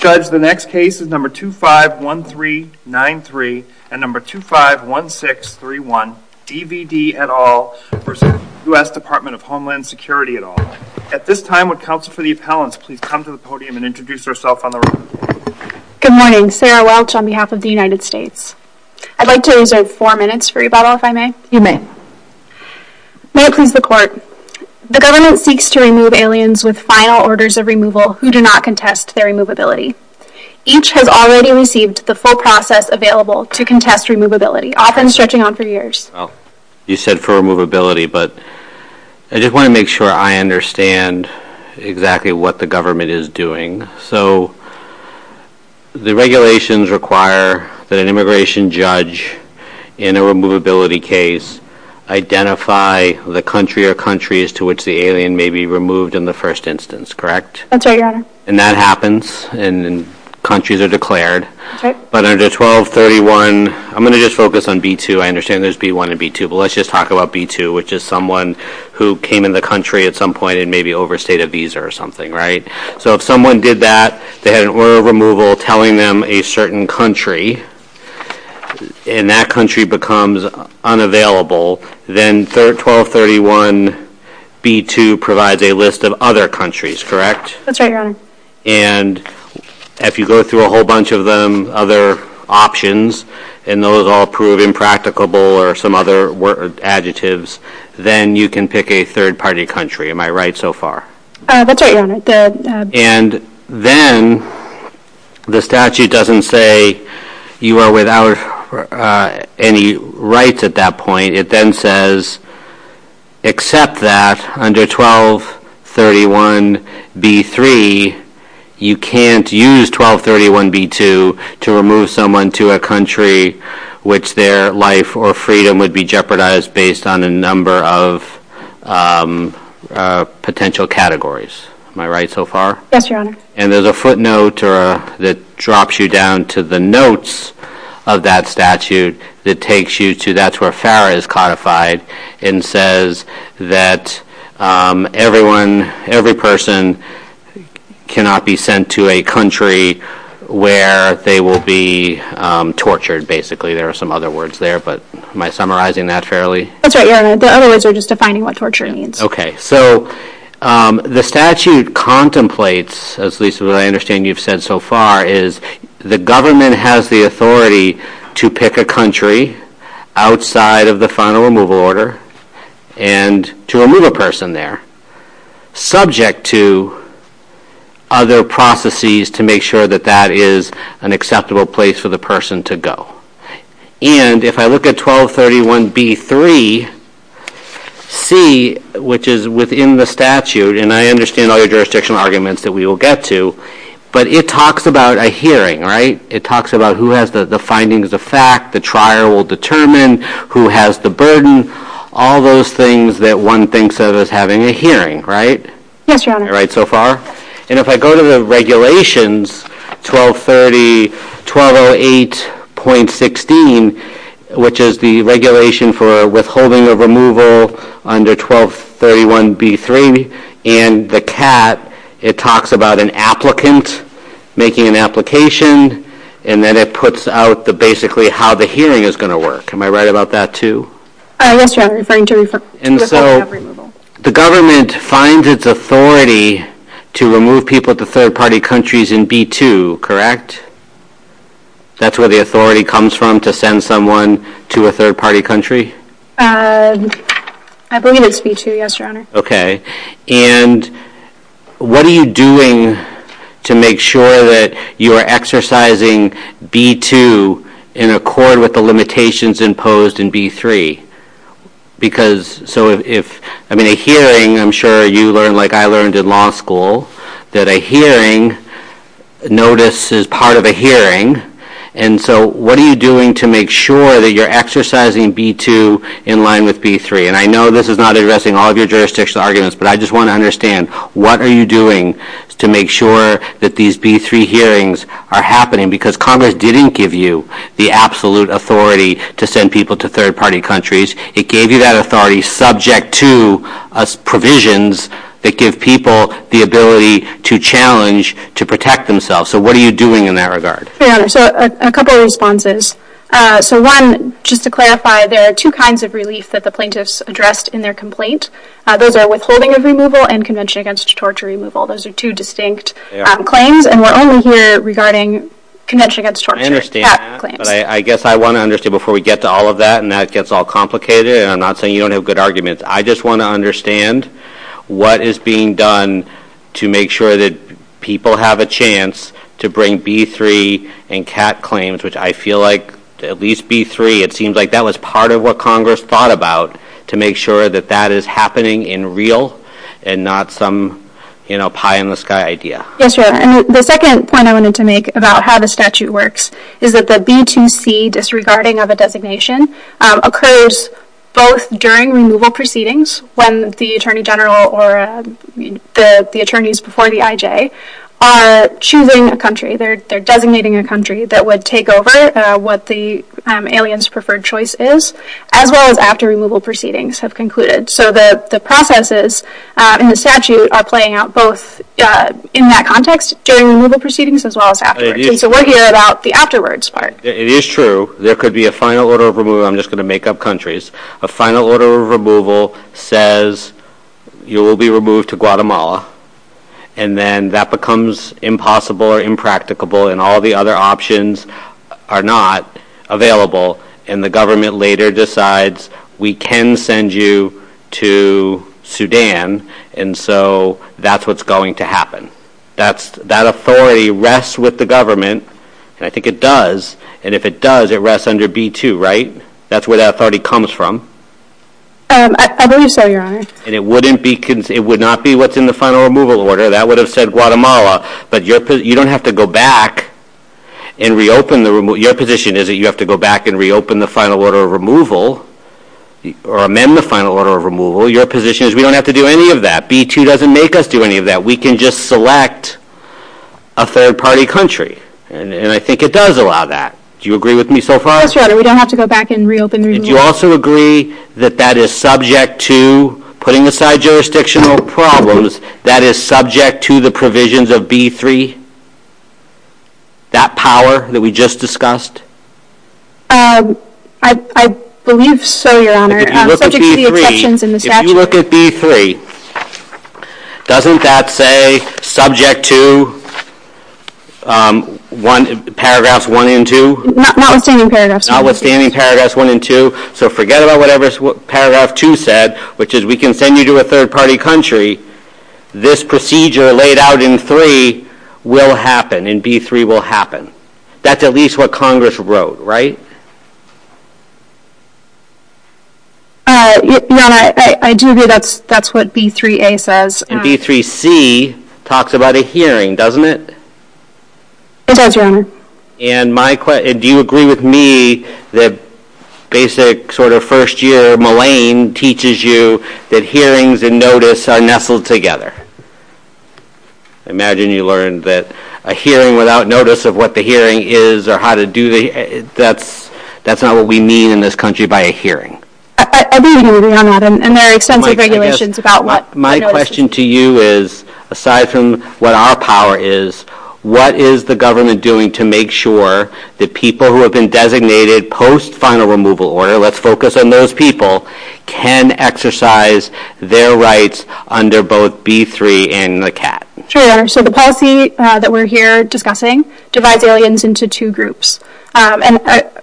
at all. At this time, would counsel for the appellants please come to the podium and introduce yourself on the record. Good morning. Sarah Welch on behalf of the United States. I'd like to reserve four minutes for rebuttal, if I may. You may. May it please the court. The government seeks to remove aliens with final orders of removal who do not contest their removability. Each has already received the full process available to contest removability, often stretching on for years. You said for removability, but I just want to make sure I understand exactly what the government is doing. So the regulations require that an immigration judge in a removability case identify the country or countries to which the alien may be removed in the first instance, correct? That's right, your honor. And that happens, and countries are declared. But under 1231, I'm going to just focus on B-2. I understand there's B-1 and B-2, but let's just talk about B-2, which is someone who came in the country at some point and maybe overstayed a visa or something, right? So if someone did that, they had an order of removal telling them a certain country, and that country becomes unavailable, then 1231 B-2 provides a list of other countries, correct? That's right, your honor. And if you go through a whole bunch of them, other options, and those all prove impracticable or some other adjectives, then you can pick a third-party country. Am I right so far? That's right, your honor. And then the statute doesn't say you are without any rights at that point. It then says, except that under 1231 B-3, you can't use 1231 B-2 to remove someone to a country which their life or freedom would be jeopardized based on a number of potential categories. Am I right so far? That's right, your honor. And there's a footnote that drops you down to the notes of that statute that takes you to that's where FARA is codified, and says that everyone, every person cannot be sent to a country where they will be tortured, basically. There are some other words there, but am I summarizing that fairly? That's right, your honor. The other words are just defining what torture means. Okay. So the statute contemplates, as Lisa, I understand you've said so far, is the government has the authority to pick a country outside of the final removal order and to remove a person there, subject to other processes to make sure that that is an acceptable place for the person to go. And if I look at 1231 B-3, C, which is within the statute, and I understand all your jurisdictional arguments that we will get to, but it talks about a hearing, right? It talks about who has the findings of fact, the trier will determine who has the burden, all those things that one thinks of as having a hearing, right? Yes, your honor. Right, so far? And if I go to the regulations, 1230, 1208.16, which is the regulation for withholding of removal under 1231 B-3, and the CAT, it talks about an applicant making an application, and then it puts out the basically how the hearing is going to work. Am I right about that, too? Yes, your honor, referring to withholding of removal. And so the government finds its authority to remove people to third-party countries in B-2, correct? That's where the authority comes from, to send someone to a third-party country? I believe it's B-2, yes, your honor. Okay, and what are you doing to make sure that you are exercising B-2 in accord with the limitations imposed in B-3? Because, so if, I mean, a hearing, I'm sure you learned like I learned in law school, that a hearing, notice is part of a hearing, and so what are you doing to make sure that you're exercising B-2 in line with B-3? And I know this is not addressing all of your jurisdiction arguments, but I just want to understand, what are you doing to make sure that these B-3 hearings are happening? Because Congress didn't give you the absolute authority to send people to third-party countries. It gave you that authority subject to provisions that give people the ability to challenge, to protect themselves, so what are you doing in that regard? Yeah, so a couple of responses. So one, just to clarify, there are two kinds of relief that the plaintiffs addressed in their complaint. Those are withholding of removal and convention against torture removal. Those are two distinct claims, and we're only here regarding convention against torture. I understand that, but I guess I want to understand, before we get to all of that, and that gets all complicated, and I'm not saying you don't have good arguments, I just want to understand what is being done to make sure that people have a chance to bring B-3 and CAT claims, which I feel like at least B-3, it seems like that was part of what Congress thought about, to make sure that that is happening in real and not some pie-in-the-sky idea. Yes, and the second point I wanted to make about how the statute works is that the B-2C, disregarding of a designation, occurs both during removal proceedings, when the Attorney General or the attorneys before the IJ are choosing a country, they're designating a country that would take over what the alien's preferred choice is, as well as after removal proceedings have concluded. So the processes in the statute are playing out both in that context, during removal proceedings, as well as afterwards. So we're here about the afterwards part. It is true there could be a final order of removal, I'm just going to make up countries, a final order of removal says you will be removed to Guatemala, and then that becomes impossible or impracticable, and all the other options are not available, and the government later decides we can send you to Sudan, and so that's what's going to happen. That authority rests with the government, and I think it does, and if it does, it rests under B-2, right? That's where that authority comes from. I believe so, Your Honor. And it would not be what's in the final removal order. That would have said Guatemala, but you don't have to go back and reopen the removal. Your position is that you have to go back and reopen the final order of removal, or amend the final order of removal. Your position is we don't have to do any of that. B-2 doesn't make us do any of that. We can just select a third-party country, and I think it does allow that. Do you agree with me so far? We don't have to go back and reopen the removal. Do you also agree that that is subject to, putting aside jurisdictional problems, that is subject to the provisions of B-3, that power that we just discussed? I believe so, Your Honor. If you look at B-3, doesn't that say subject to paragraphs 1 and 2? Not withstanding paragraphs 1 and 2. Not withstanding paragraphs 1 and 2. So forget about whatever paragraph 2 said, which is we can send you to a third-party country. This procedure laid out in 3 will happen, and B-3 will happen. That's at least what Congress wrote, right? Your Honor, I do agree that's what B-3a says. And B-3c talks about a hearing, doesn't it? It does, Your Honor. And do you agree with me that basic sort of first-year malign teaches you that hearings and notice are nestled together? I imagine you learned that a hearing without notice of what the hearing is or how to do it, that's not what we mean in this country by a hearing. I do agree with you on that, and there are extensive regulations about what the notice is. Aside from what our power is, what is the government doing to make sure that people who have been designated post-final removal order, let's focus on those people, can exercise their rights under both B-3 and the CAT? Sure, Your Honor. So the policy that we're here discussing divides aliens into two groups. And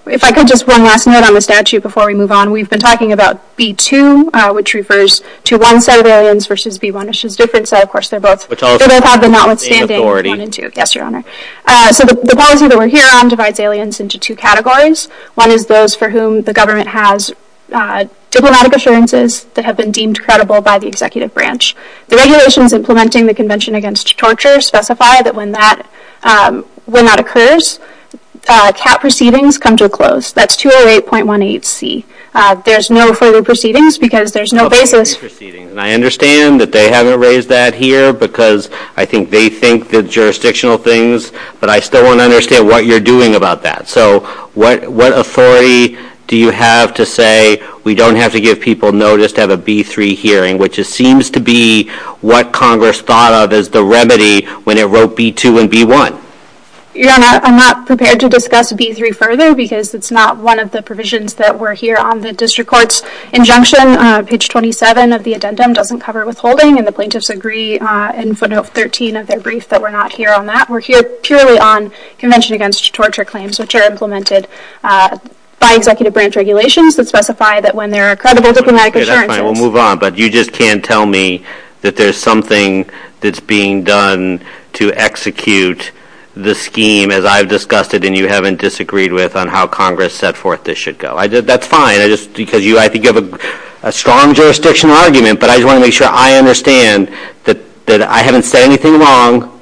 if I could just one last minute on the statute before we move on, we've been talking about B-2, which refers to one set of aliens versus B-1, which is different, so of course they're both out there notwithstanding B-1 and B-2. Yes, Your Honor. So the policy that we're here on divides aliens into two categories. One is those for whom the government has diplomatic assurances that have been deemed credible by the executive branch. The regulations implementing the Convention Against Torture specify that when that occurs, CAT proceedings come to a close. That's 208.18c. There's no further proceedings because there's no basis. And I understand that they haven't raised that here because I think they think the jurisdictional things, but I still want to understand what you're doing about that. So what authority do you have to say we don't have to give people notice to have a B-3 hearing, which it seems to be what Congress thought of as the remedy when it wrote B-2 and B-1? Your Honor, I'm not prepared to discuss B-3 further because it's not one of the provisions that were here on the district court's injunction. Page 27 of the addendum doesn't cover withholding, and the plaintiffs agree in footnote 13 of their brief that we're not here on that. We're here purely on Convention Against Torture claims, which are implemented by executive branch regulations that specify that when there are credible diplomatic assurances. Okay, that's fine. We'll move on. But you just can't tell me that there's something that's being done to execute the scheme, as I've discussed it and you haven't disagreed with on how Congress set forth this should go. That's fine. I think you have a strong jurisdictional argument, but I just want to make sure I understand that I haven't said anything wrong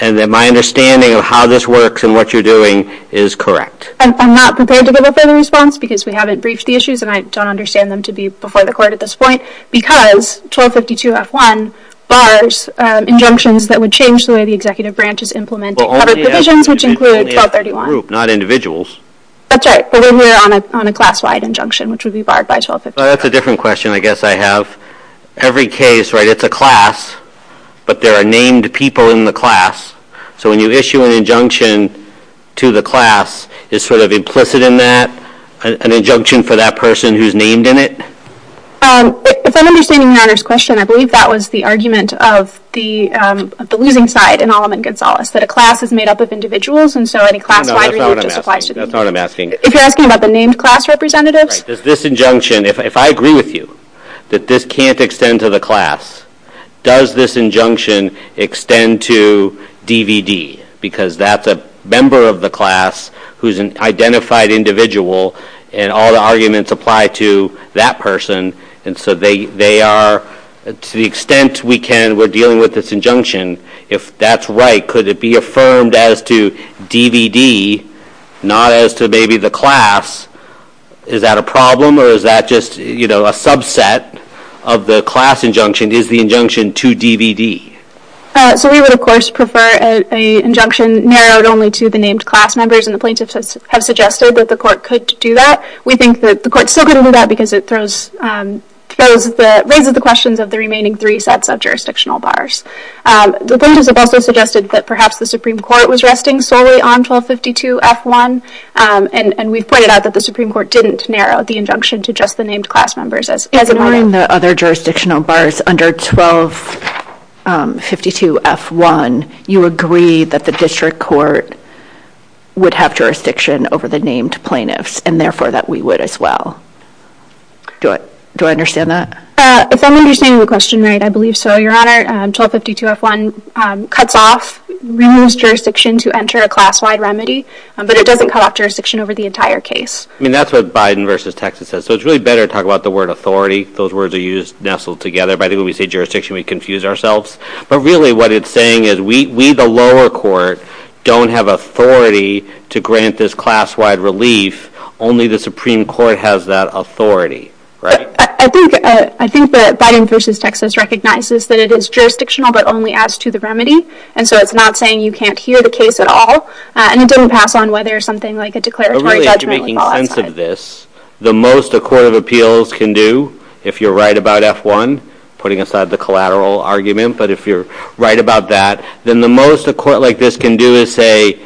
and that my understanding of how this works and what you're doing is correct. I'm not prepared to give a further response because we haven't briefed the issues, and I don't understand them to be before the court at this point, because 1252-F1 bars injunctions that would change the way the executive branch is implementing those divisions, which include 1231. Not individuals. That's right. So we're here on a class-wide injunction, which would be barred by 1252. That's a different question, I guess, I have. Every case, right, it's a class, but there are named people in the class. So when you issue an injunction to the class, is sort of implicit in that an injunction for that person who's named in it? If I'm understanding the matter's question, I believe that was the argument of the losing side in Alleman-Gonzalez, that a class is made up of individuals, and so any class-wide review just applies to them. That's not what I'm asking. Is he asking about the named class representative? Does this injunction, if I agree with you, that this can't extend to the class, does this injunction extend to DVD? Because that's a member of the class who's an identified individual, and all the arguments apply to that person, and so they are, to the extent we're dealing with this injunction, if that's right, could it be affirmed as to DVD, not as to maybe the class? Is that a problem, or is that just a subset of the class injunction? Is the injunction to DVD? So we would, of course, prefer an injunction narrowed only to the named class members, and the plaintiffs have suggested that the court could do that. We think that the court still couldn't do that because it raises the questions of the remaining three sets of jurisdictional bars. The plaintiffs have also suggested that perhaps the Supreme Court was resting solely on 1252F1, and we've pointed out that the Supreme Court didn't narrow the injunction to just the named class members. In the other jurisdictional bars under 1252F1, you agreed that the district court would have jurisdiction over the named plaintiffs, and therefore that we would as well. Do I understand that? If I'm understanding the question right, I believe so, Your Honor. 1252F1 cuts off, removes jurisdiction to enter a class-wide remedy, but it doesn't cut off jurisdiction over the entire case. I mean, that's what Biden v. Texas says. So it's really better to talk about the word authority. Those words are used nestled together. By the way, when we say jurisdiction, we confuse ourselves. But really what it's saying is we, the lower court, don't have authority to grant this class-wide relief. Only the Supreme Court has that authority, right? I think that Biden v. Texas recognizes that it is jurisdictional but only adds to the remedy, and so it's not saying you can't hear the case at all. And it doesn't pass on whether something like a declaratory judgment would fall outside. The most a court of appeals can do, if you're right about F1, putting aside the collateral argument, but if you're right about that, then the most a court like this can do is say,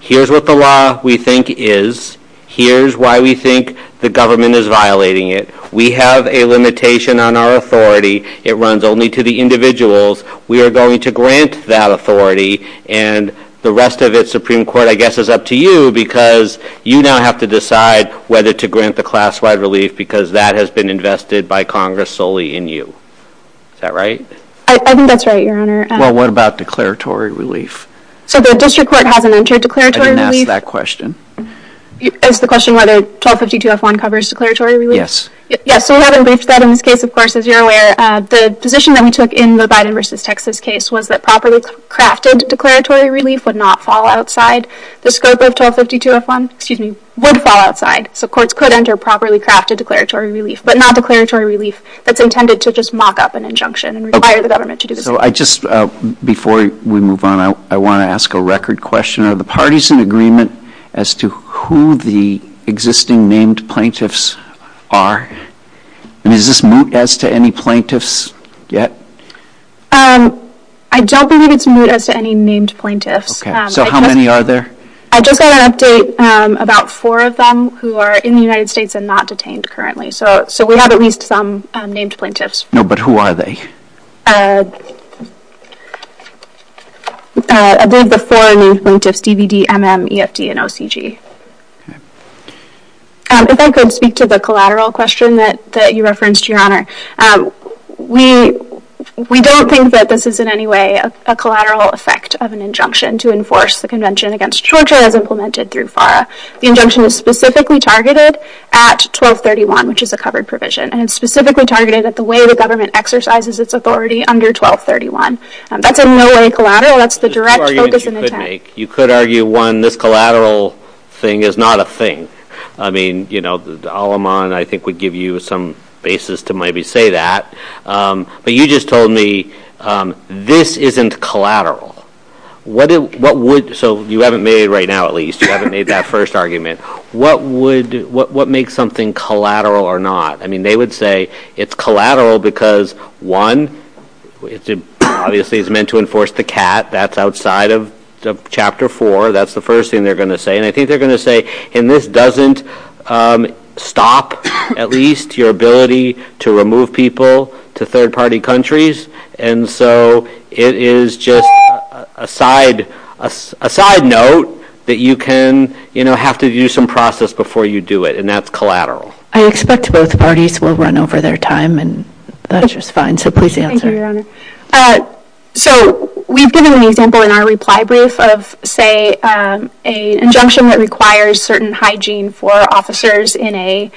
here's what the law we think is, here's why we think the government is violating it. We have a limitation on our authority. It runs only to the individuals. We are going to grant that authority. And the rest of it, Supreme Court, I guess is up to you because you now have to decide whether to grant the class-wide relief because that has been invested by Congress solely in you. Is that right? I think that's right, Your Honor. Well, what about declaratory relief? So the district court hasn't entered declaratory relief? I didn't ask that question. Is the question whether 1252F1 covers declaratory relief? Yes. Yes, so as you're aware, the position that we took in the Biden v. Texas case was that properly crafted declaratory relief would not fall outside the scope of 1252F1. It would fall outside. So courts could enter properly crafted declaratory relief, but not declaratory relief that's intended to just mock up an injunction and require the government to do it. Before we move on, I want to ask a record question. Are the parties in agreement as to who the existing named plaintiffs are? And is this moot as to any plaintiffs yet? I don't believe it's moot as to any named plaintiffs. Okay, so how many are there? I just want to update about four of them who are in the United States and not detained currently. So we have at least some named plaintiffs. No, but who are they? There's the four named plaintiffs, DVD, MM, EFD, and OCG. If I could speak to the collateral question that you referenced, Your Honor. We don't think that this is in any way a collateral effect of an injunction to enforce the Convention against Torture as implemented through FARA. The injunction is specifically targeted at 1231, which is the covered provision, and it's specifically targeted at the way the government exercises its authority under 1231. That's in no way collateral. That's the direct focus of intent. You could argue, one, this collateral thing is not a thing. I mean, Al-Aman, I think, would give you some basis to maybe say that. But you just told me this isn't collateral. So you haven't made it right now at least. You haven't made that first argument. What makes something collateral or not? I mean, they would say it's collateral because, one, obviously it's meant to enforce the CAT. That's outside of Chapter 4. That's the first thing they're going to say. And I think they're going to say, and this doesn't stop at least your ability to remove people to third-party countries, and so it is just a side note that you can, you know, have to do some process before you do it, and that's collateral. I expect both parties will run over their time, and that's just fine. So please answer. So we've given an example in our reply brief of, say, an injunction that requires certain hygiene for officers in a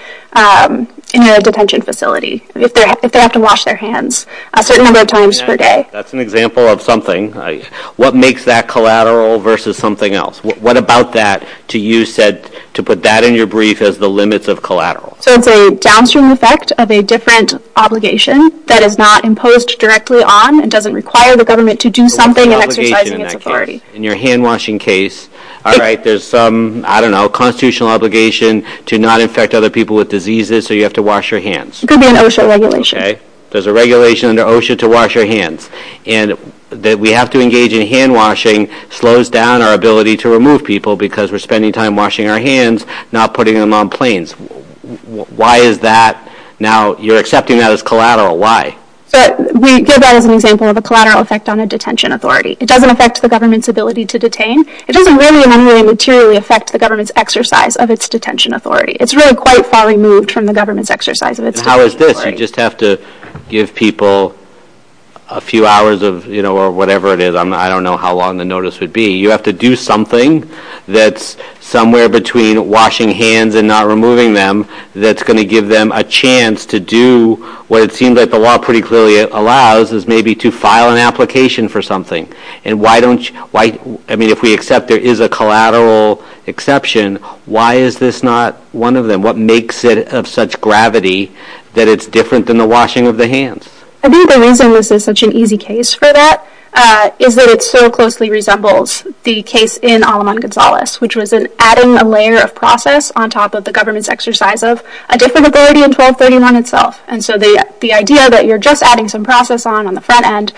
detention facility if they have to wash their hands a certain number of times per day. That's an example of something. What makes that collateral versus something else? What about that to use to put that in your brief as the limits of collateral? So it's a downstream effect of a different obligation that is not imposed directly on and doesn't require the government to do something. In your hand-washing case, all right, there's some, I don't know, constitutional obligation to not infect other people with diseases, so you have to wash your hands. It could be an OSHA regulation. Okay. There's a regulation under OSHA to wash your hands. And that we have to engage in hand-washing slows down our ability to remove people because we're spending time washing our hands, not putting them on planes. Why is that? Now, you're accepting that as collateral. We give that as an example of a collateral effect on a detention authority. It doesn't affect the government's ability to detain. It doesn't really in any way materially affect the government's exercise of its detention authority. It's really quite far removed from the government's exercise of its detention authority. How is this? I just have to give people a few hours of, you know, or whatever it is. I don't know how long the notice would be. You have to do something that's somewhere between washing hands and not removing them that's going to give them a chance to do what it seems like the law pretty clearly allows is maybe to file an application for something. And why don't you, I mean, if we accept there is a collateral exception, why is this not one of them? And what makes it of such gravity that it's different than the washing of the hands? I think the reason that this is such an easy case for that is that it so closely resembles the case in Aleman-Gonzalez, which was adding a layer of process on top of the government's exercise of a disability in 1231 itself. And so the idea that you're just adding some process on the front end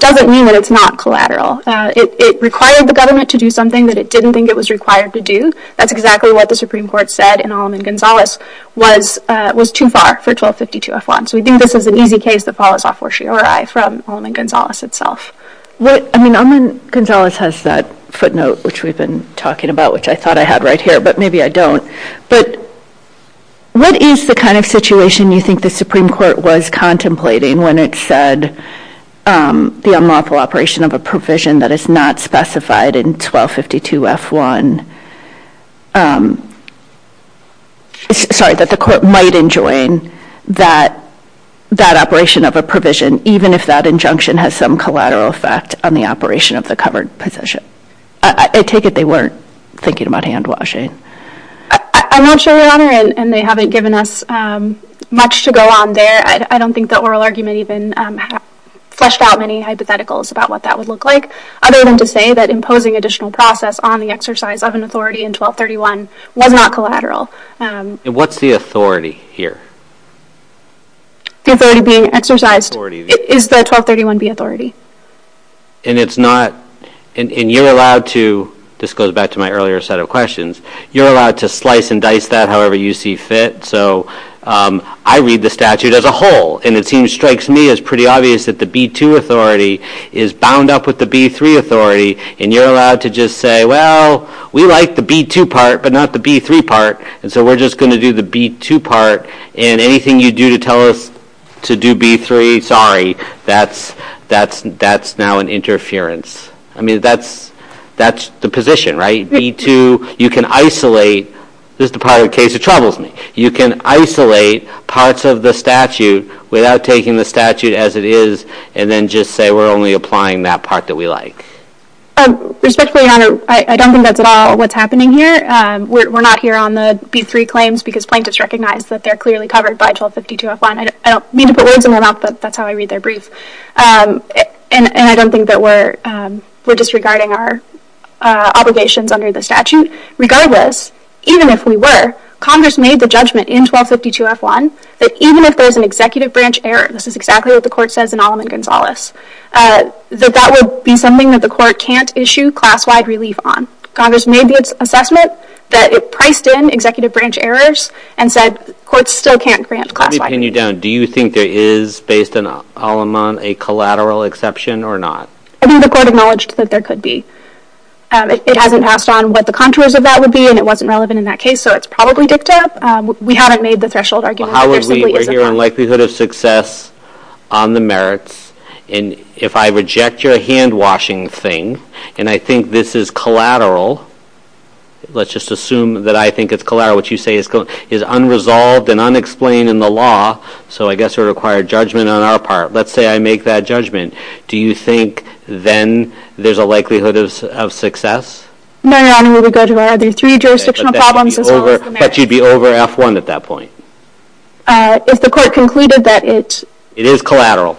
doesn't mean that it's not collateral. It required the government to do something that it didn't think it was required to do. That's exactly what the Supreme Court said in Aleman-Gonzalez was too far for 1252-F1. So we do this as an easy case that follows off Warshiori from Aleman-Gonzalez itself. I mean, Aleman-Gonzalez has that footnote which we've been talking about, which I thought I had right here, but maybe I don't. But what is the kind of situation you think the Supreme Court was contemplating when it said the unlawful operation of a provision that is not specified in 1252-F1, sorry, that the court might enjoin that operation of a provision, even if that injunction has some collateral effect on the operation of the covered provision? I take it they weren't thinking about hand washing. I'm not sure, Your Honor, and they haven't given us much to go on there. I don't think the oral argument even flushed out many hypotheticals about what that would look like, other than to say that imposing additional process on the exercise of an authority in 1231 was not collateral. And what's the authority here? Authority being exercised is the 1231B authority. And it's not, and you're allowed to, this goes back to my earlier set of questions, you're allowed to slice and dice that however you see fit. So I read the statute as a whole, and it seems, strikes me as pretty obvious, that the B-2 authority is bound up with the B-3 authority, and you're allowed to just say, well, we like the B-2 part but not the B-3 part, and so we're just going to do the B-2 part, and anything you do to tell us to do B-3, sorry, that's now an interference. I mean, that's the position, right? You can isolate, this is the part of the case that troubles me, you can isolate parts of the statute without taking the statute as it is and then just say we're only applying that part that we like. Respectfully, Your Honor, I don't think that's at all what's happening here. We're not here on the B-3 claims because plaintiffs recognize that they're clearly covered by 1252F1. I don't mean to put words in their mouth, but that's how I read their brief. And I don't think that we're disregarding our obligations under the statute. Regardless, even if we were, Congress made the judgment in 1252F1 that even if there's an executive branch error, this is exactly what the court says in Aleman-Gonzalez, that that would be something that the court can't issue class-wide relief on. Congress made the assessment that it priced in executive branch errors and said courts still can't grant class-wide relief. Let me pin you down. Do you think there is, based on Aleman, a collateral exception or not? I think the court acknowledged that there could be. It hasn't asked on what the contours of that would be, and it wasn't relevant in that case, so it's probably just a tip. We haven't made the threshold argument. We're here on likelihood of success on the merits, and if I reject your hand-washing thing and I think this is collateral, let's just assume that I think it's collateral, which you say is unresolved and unexplained in the law, so I guess it would require judgment on our part. Let's say I make that judgment. Do you think then there's a likelihood of success? No, Your Honor. We would go to where there are three jurisdictional problems. But you'd be over F1 at that point. If the court concluded that it's... It is collateral.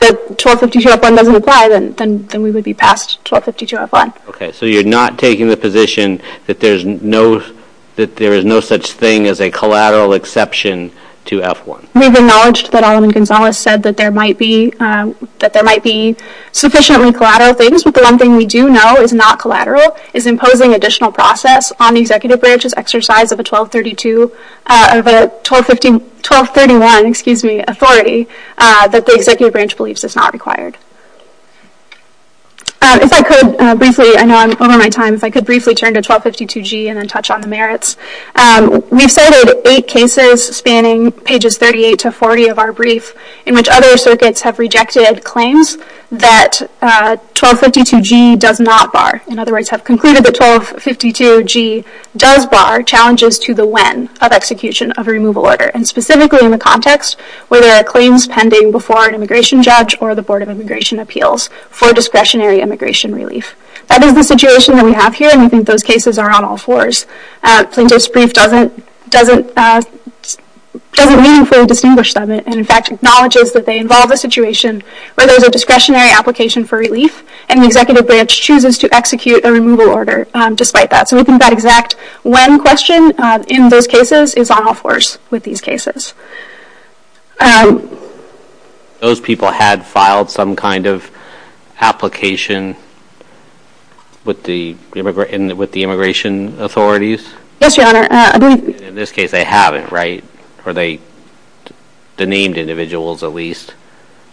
...that 1252F1 doesn't apply, then we would be past 1252F1. Okay, so you're not taking the position that there is no such thing as a collateral exception to F1. We've acknowledged that Adam and Gonzales said that there might be sufficiently collateral things, but the one thing we do know is not collateral is imposing additional process on the executive branch's exercise of the 1232, of the 1231, excuse me, authority that the executive branch believes is not required. If I could briefly, I know I'm over my time, if I could briefly turn to 1252G and then touch on the merits. We've cited eight cases spanning pages 38 to 40 of our brief in which other circuits have rejected claims that 1252G does not bar. In other words, have concluded that 1252G does bar challenges to the lens of execution of a removal order, and specifically in the context where there are claims pending before an immigration judge or the Board of Immigration Appeals for discretionary immigration relief. That is the situation that we have here, and we think those cases are on all fours. So this brief doesn't meaningfully distinguish them, and in fact acknowledges that they involve a situation where there's a discretionary application for relief, and the executive branch chooses to execute a removal order despite that. So we think that exact one question in those cases is on all fours with these cases. Those people had filed some kind of application with the immigration authorities? Yes, Your Honor. In this case they haven't, right? Or they, the named individuals at least.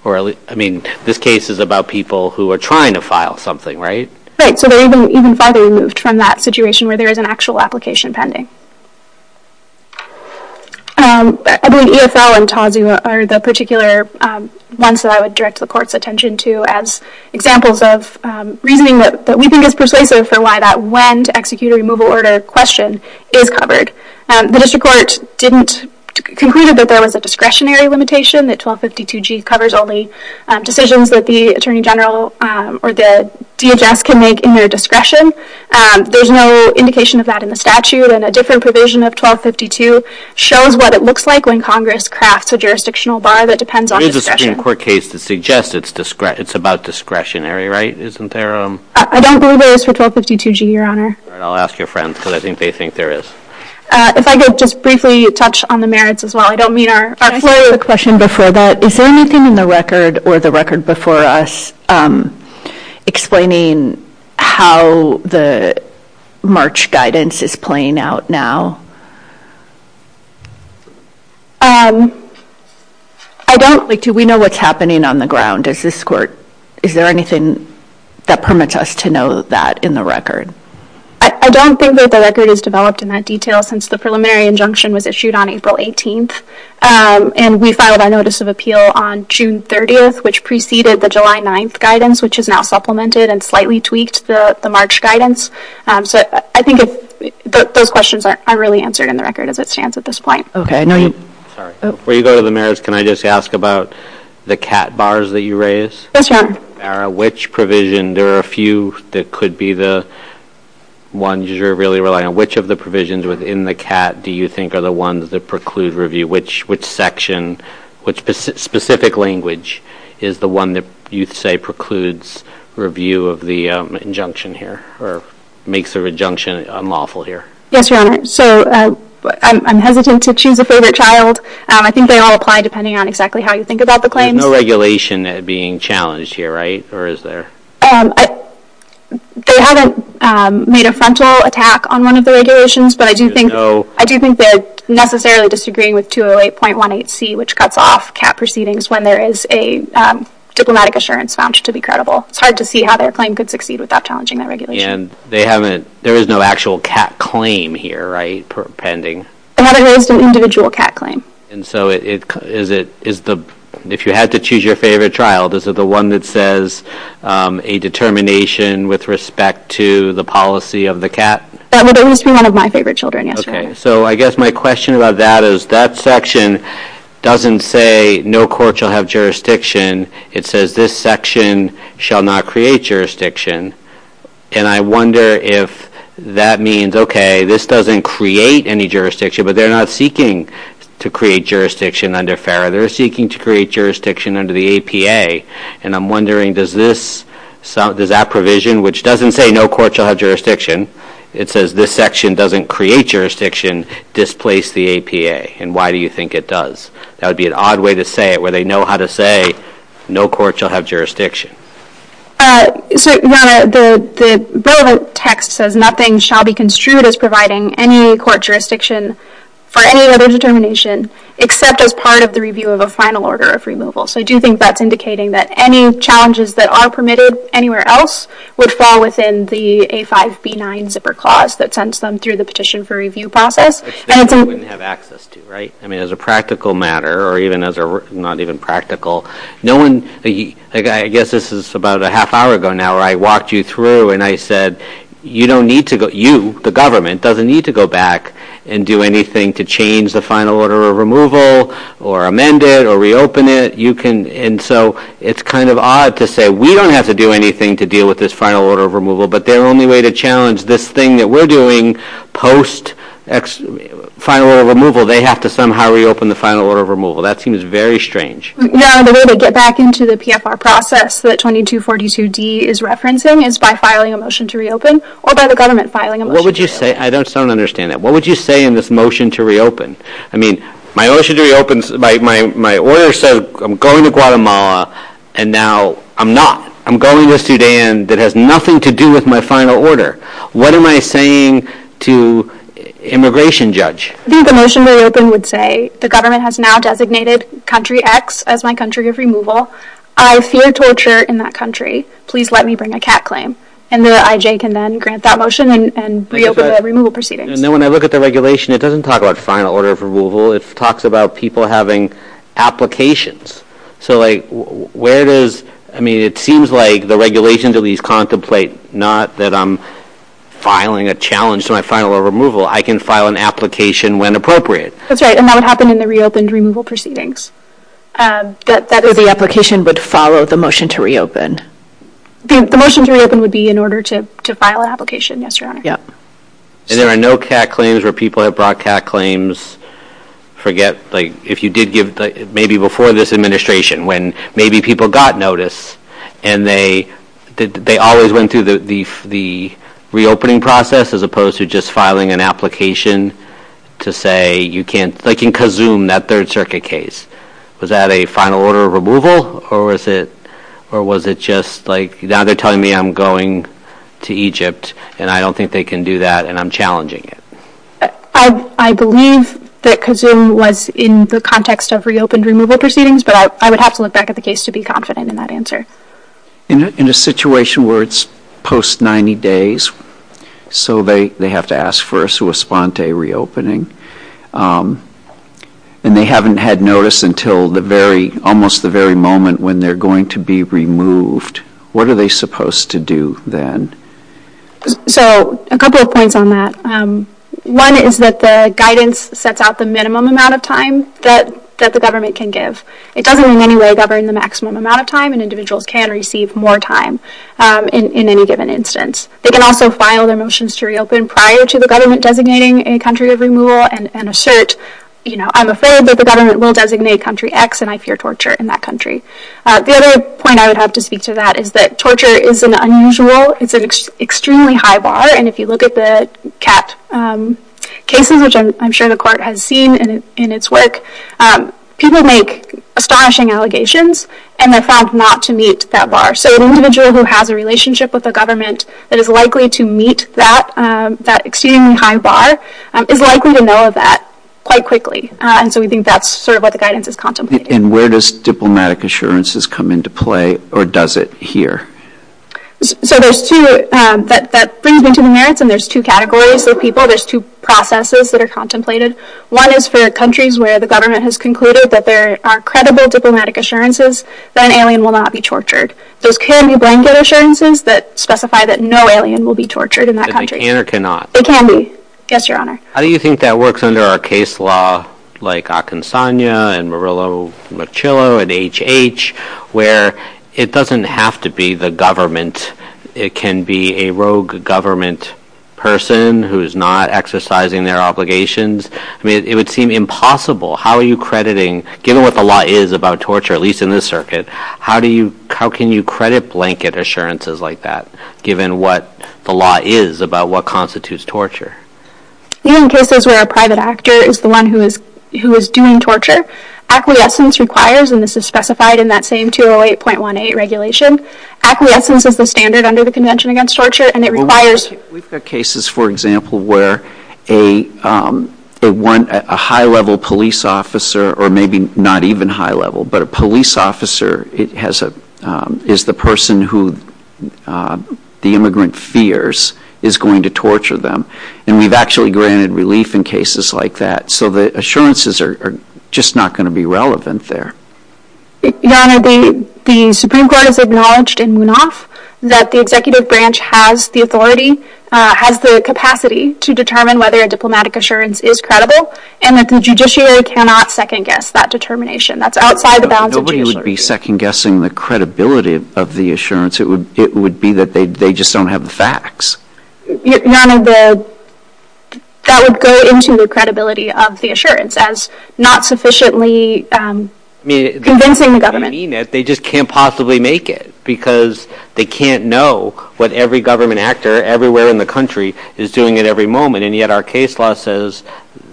I mean, this case is about people who are trying to file something, right? Right, so they're even further removed from that situation where there is an actual application pending. I believe ESL and TAWSU are the particular ones that I would direct the court's attention to as examples of reasoning that we think is persuasive for why that when to execute a removal order question is covered. The district court didn't conclude that there was a discretionary limitation, that 1252G covers only decisions that the attorney general or the DHS can make in their discretion. There's no indication of that in the statute, and a different provision of 1252 shows what it looks like when Congress crafts a jurisdictional bar that depends on discretion. There is a Supreme Court case that suggests it's about discretionary, right? Isn't there? I don't believe there is for 1252G, Your Honor. I'll ask your friends because I think they think there is. If I could just briefly touch on the merits as well, I don't mean our floor. Can I ask a question before that? Is there anything in the record or the record before us explaining how the March guidance is playing out now? Do we know what's happening on the ground? Is there anything that permits us to know that in the record? I don't think that the record is developed in that detail since the preliminary injunction was issued on April 18th, and we filed a notice of appeal on June 30th, which preceded the July 9th guidance, which is now supplemented and slightly tweaked, the March guidance. I think those questions aren't really answered in the record as it stands at this point. Before you go to the merits, can I just ask about the CAT bars that you raised? Yes, Your Honor. There are a few that could be the ones you're really relying on. Which of the provisions within the CAT do you think are the ones that preclude review? Which specific language is the one that you'd say precludes review of the injunction here or makes the injunction unlawful here? Yes, Your Honor. I'm hesitant to choose a favorite child. I think they all apply depending on exactly how you think about the claim. There's no regulation being challenged here, right, or is there? They haven't made a frontal attack on one of the regulations, but I do think they're necessarily disagreeing with 208.18c, which cuts off CAT proceedings when there is a diplomatic assurance found to be credible. It's hard to see how their claim could succeed without challenging their regulation. And there is no actual CAT claim here, right, pending? There is an individual CAT claim. And so if you had to choose your favorite child, is it the one that says a determination with respect to the policy of the CAT? That would at least be one of my favorite children, yes. Okay. So I guess my question about that is that section doesn't say no court shall have jurisdiction. It says this section shall not create jurisdiction. And I wonder if that means, okay, this doesn't create any jurisdiction, but they're not seeking to create jurisdiction under FARRA. They're seeking to create jurisdiction under the APA. And I'm wondering, does that provision, which doesn't say no court shall have jurisdiction, it says this section doesn't create jurisdiction, displace the APA? And why do you think it does? That would be an odd way to say it, where they know how to say no court shall have jurisdiction. The relevant text says nothing shall be construed as providing any court jurisdiction for any other determination except as part of the review of a final order of removal. So I do think that's indicating that any challenges that are permitted anywhere else would fall within the A5B9 zipper clause that sends them through the petition for review process. If they wouldn't have access to, right? I mean, as a practical matter or even as a not even practical, I guess this is about a half hour ago now where I walked you through and I said, you, the government, doesn't need to go back and do anything to change the final order of removal or amend it or reopen it. And so it's kind of odd to say we don't have to do anything to deal with this final order of removal, but their only way to challenge this thing that we're doing post final order of removal, they have to somehow reopen the final order of removal. That seems very strange. No, the way to get back into the PFR process that 2242D is referencing is by filing a motion to reopen or by the government filing a motion to reopen. I don't understand that. What would you say in this motion to reopen? I mean, my motion to reopen, my order says I'm going to Guatemala and now I'm not. I'm going to Sudan that has nothing to do with my final order. What am I saying to immigration judge? I think the motion to reopen would say the government has now designated country X as my country of removal. I fear torture in that country. Please let me bring a cat claim. And the IJ can then grant that motion and reopen the removal proceedings. And then when I look at the regulation, it doesn't talk about final order of removal. It talks about people having applications. So, like, where does, I mean, it seems like the regulation to at least contemplate, not that I'm filing a challenge to my final order of removal. I can file an application when appropriate. That's right, and that would happen in the reopened removal proceedings. That the application would follow the motion to reopen. The motion to reopen would be in order to file an application, yes, Your Honor. And there are no cat claims where people have brought cat claims. Forget, like, if you did give, maybe before this administration when maybe people got notice and they always went through the reopening process as opposed to just filing an application to say you can't, like in Kazum, that third circuit case. Was that a final order of removal or was it just like, now they're telling me I'm going to Egypt and I don't think they can do that and I'm challenging it. I believe that Kazum was in the context of reopened removal proceedings, but I would have to look back at the case to be confident in that answer. In a situation where it's post 90 days, so they have to ask first to respond to a reopening, and they haven't had notice until the very, almost the very moment when they're going to be removed, what are they supposed to do then? So, a couple of points on that. One is that the guidance sets out the minimum amount of time that the government can give. It doesn't in any way govern the maximum amount of time an individual can receive more time in any given instance. They can also file their motions to reopen prior to the government designating a country of removal and assert, you know, I'm afraid that the government will designate country X and I fear torture in that country. The other point I would have to speak to that is that torture is an unusual, it's an extremely high bar and if you look at the CAT cases, which I'm sure the court has seen in its work, people make astonishing allegations and they're found not to meet that bar. So, an individual who has a relationship with the government that is likely to meet that, that extremely high bar, is likely to know that quite quickly and so we think that's sort of what the guidance is contemplating. And where does diplomatic assurances come into play or does it here? So, there's two, that brings into the merits and there's two categories for people, there's two processes that are contemplated. One is for countries where the government has concluded that there are credible diplomatic assurances that an alien will not be tortured. There can be blanket assurances that specify that no alien will be tortured in that country. They can or cannot? They can be, yes, your honor. How do you think that works under a case law like Akinsanya and Murillo-Machilo and HH, where it doesn't have to be the government? It can be a rogue government person who's not exercising their obligations? I mean, it would seem impossible. How are you crediting, given what the law is about torture, at least in this circuit, how can you credit blanket assurances like that, given what the law is about what constitutes torture? Even cases where a private actor is the one who is doing torture, acquiescence requires, and this is specified in that same 208.18 regulation, acquiescence is the standard under the Convention Against Torture and it requires... We've got cases, for example, where a high-level police officer, or maybe not even high-level, but a police officer is the person who the immigrant fears is going to torture them. And we've actually granted relief in cases like that. So the assurances are just not going to be relevant there. Your honor, the Supreme Court has acknowledged in Munaf that the executive branch has the authority, has the capacity, to determine whether a diplomatic assurance is credible, and that the judiciary cannot second-guess that determination. That's outside the bounds of the judiciary. Nobody would be second-guessing the credibility of the assurance. It would be that they just don't have the facts. Your honor, that would go into the credibility of the assurance as not sufficiently convincing the government. They just can't possibly make it, because they can't know what every government actor everywhere in the country is doing at every moment, and yet our case law says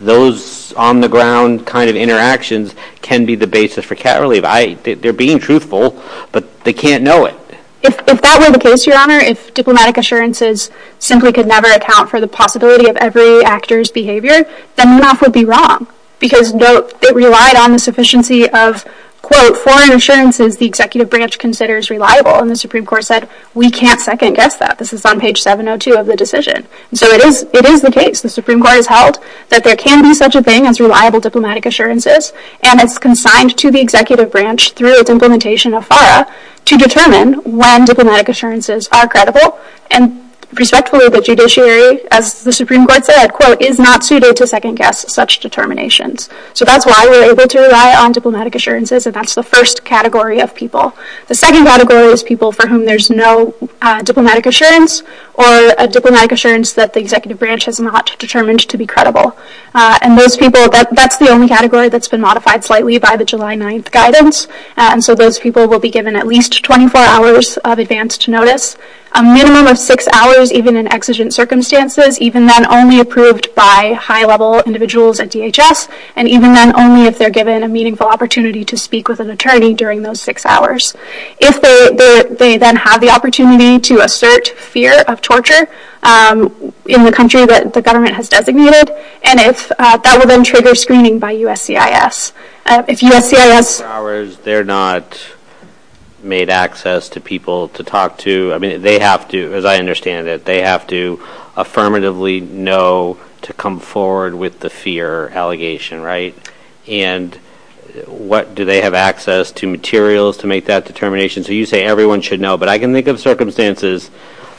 those on-the-ground kind of interactions can be the basis for cat relief. They're being truthful, but they can't know it. If that were the case, your honor, if diplomatic assurances simply could never account for the possibility of every actor's behavior, then Munaf would be wrong, because it relied on the sufficiency of, quote, foreign assurances the executive branch considers reliable. And the Supreme Court said, we can't second-guess that. This is on page 702 of the decision. So it is the case, the Supreme Court has held, that there can be such a thing as reliable diplomatic assurances, and it's consigned to the executive branch, through the implementation of FARA, to determine when diplomatic assurances are credible, and respectfully, the judiciary, as the Supreme Court said, quote, is not suited to second-guess such determinations. So that's why we're able to rely on diplomatic assurances, and that's the first category of people. The second category is people for whom there's no diplomatic assurance, or a diplomatic assurance that the executive branch has not determined to be credible. And those people, that's the only category that's been modified slightly by the July 9th guidance. So those people will be given at least 24 hours of advanced notice, a minimum of six hours, even in exigent circumstances, even then only approved by high-level individuals at DHS, and even then only if they're given a meaningful opportunity to speak with an attorney during those six hours. If they then have the opportunity to assert fear of torture in the country that the government has designated, and if that would then trigger screening by USCIS. If USCIS... They're not made access to people to talk to. I mean, they have to, as I understand it, they have to affirmatively know to come forward with the fear allegation, right? And do they have access to materials to make that determination? So you say everyone should know, but I can think of circumstances.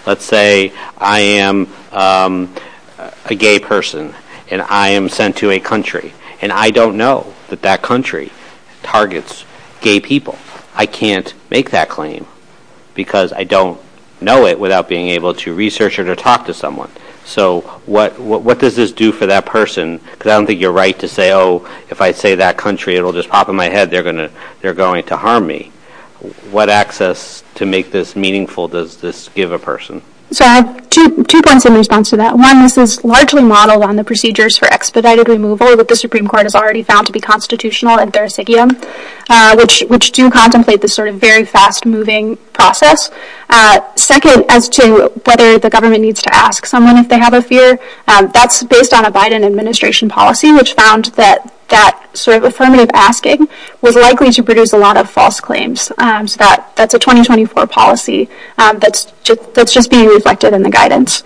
Let's say I am a gay person, and I am sent to a country, and I don't know that that country targets gay people. I can't make that claim because I don't know it without being able to research it or talk to someone. So what does this do for that person? Because I don't think you're right to say, oh, if I say that country, it'll just pop in my head, they're going to harm me. What access to make this meaningful does this give a person? So I have two points in response to that. One, this is largely modeled on the procedures for expedited removal that the Supreme Court has already found to be constitutional and verisignum, which do contemplate this sort of very fast-moving process. Second, as to whether the government needs to ask someone if they have a fear, that's based on a Biden administration policy, which found that that sort of affirmative asking was likely to produce a lot of false claims. So that's a 2024 policy that's just being reflected in the guidance.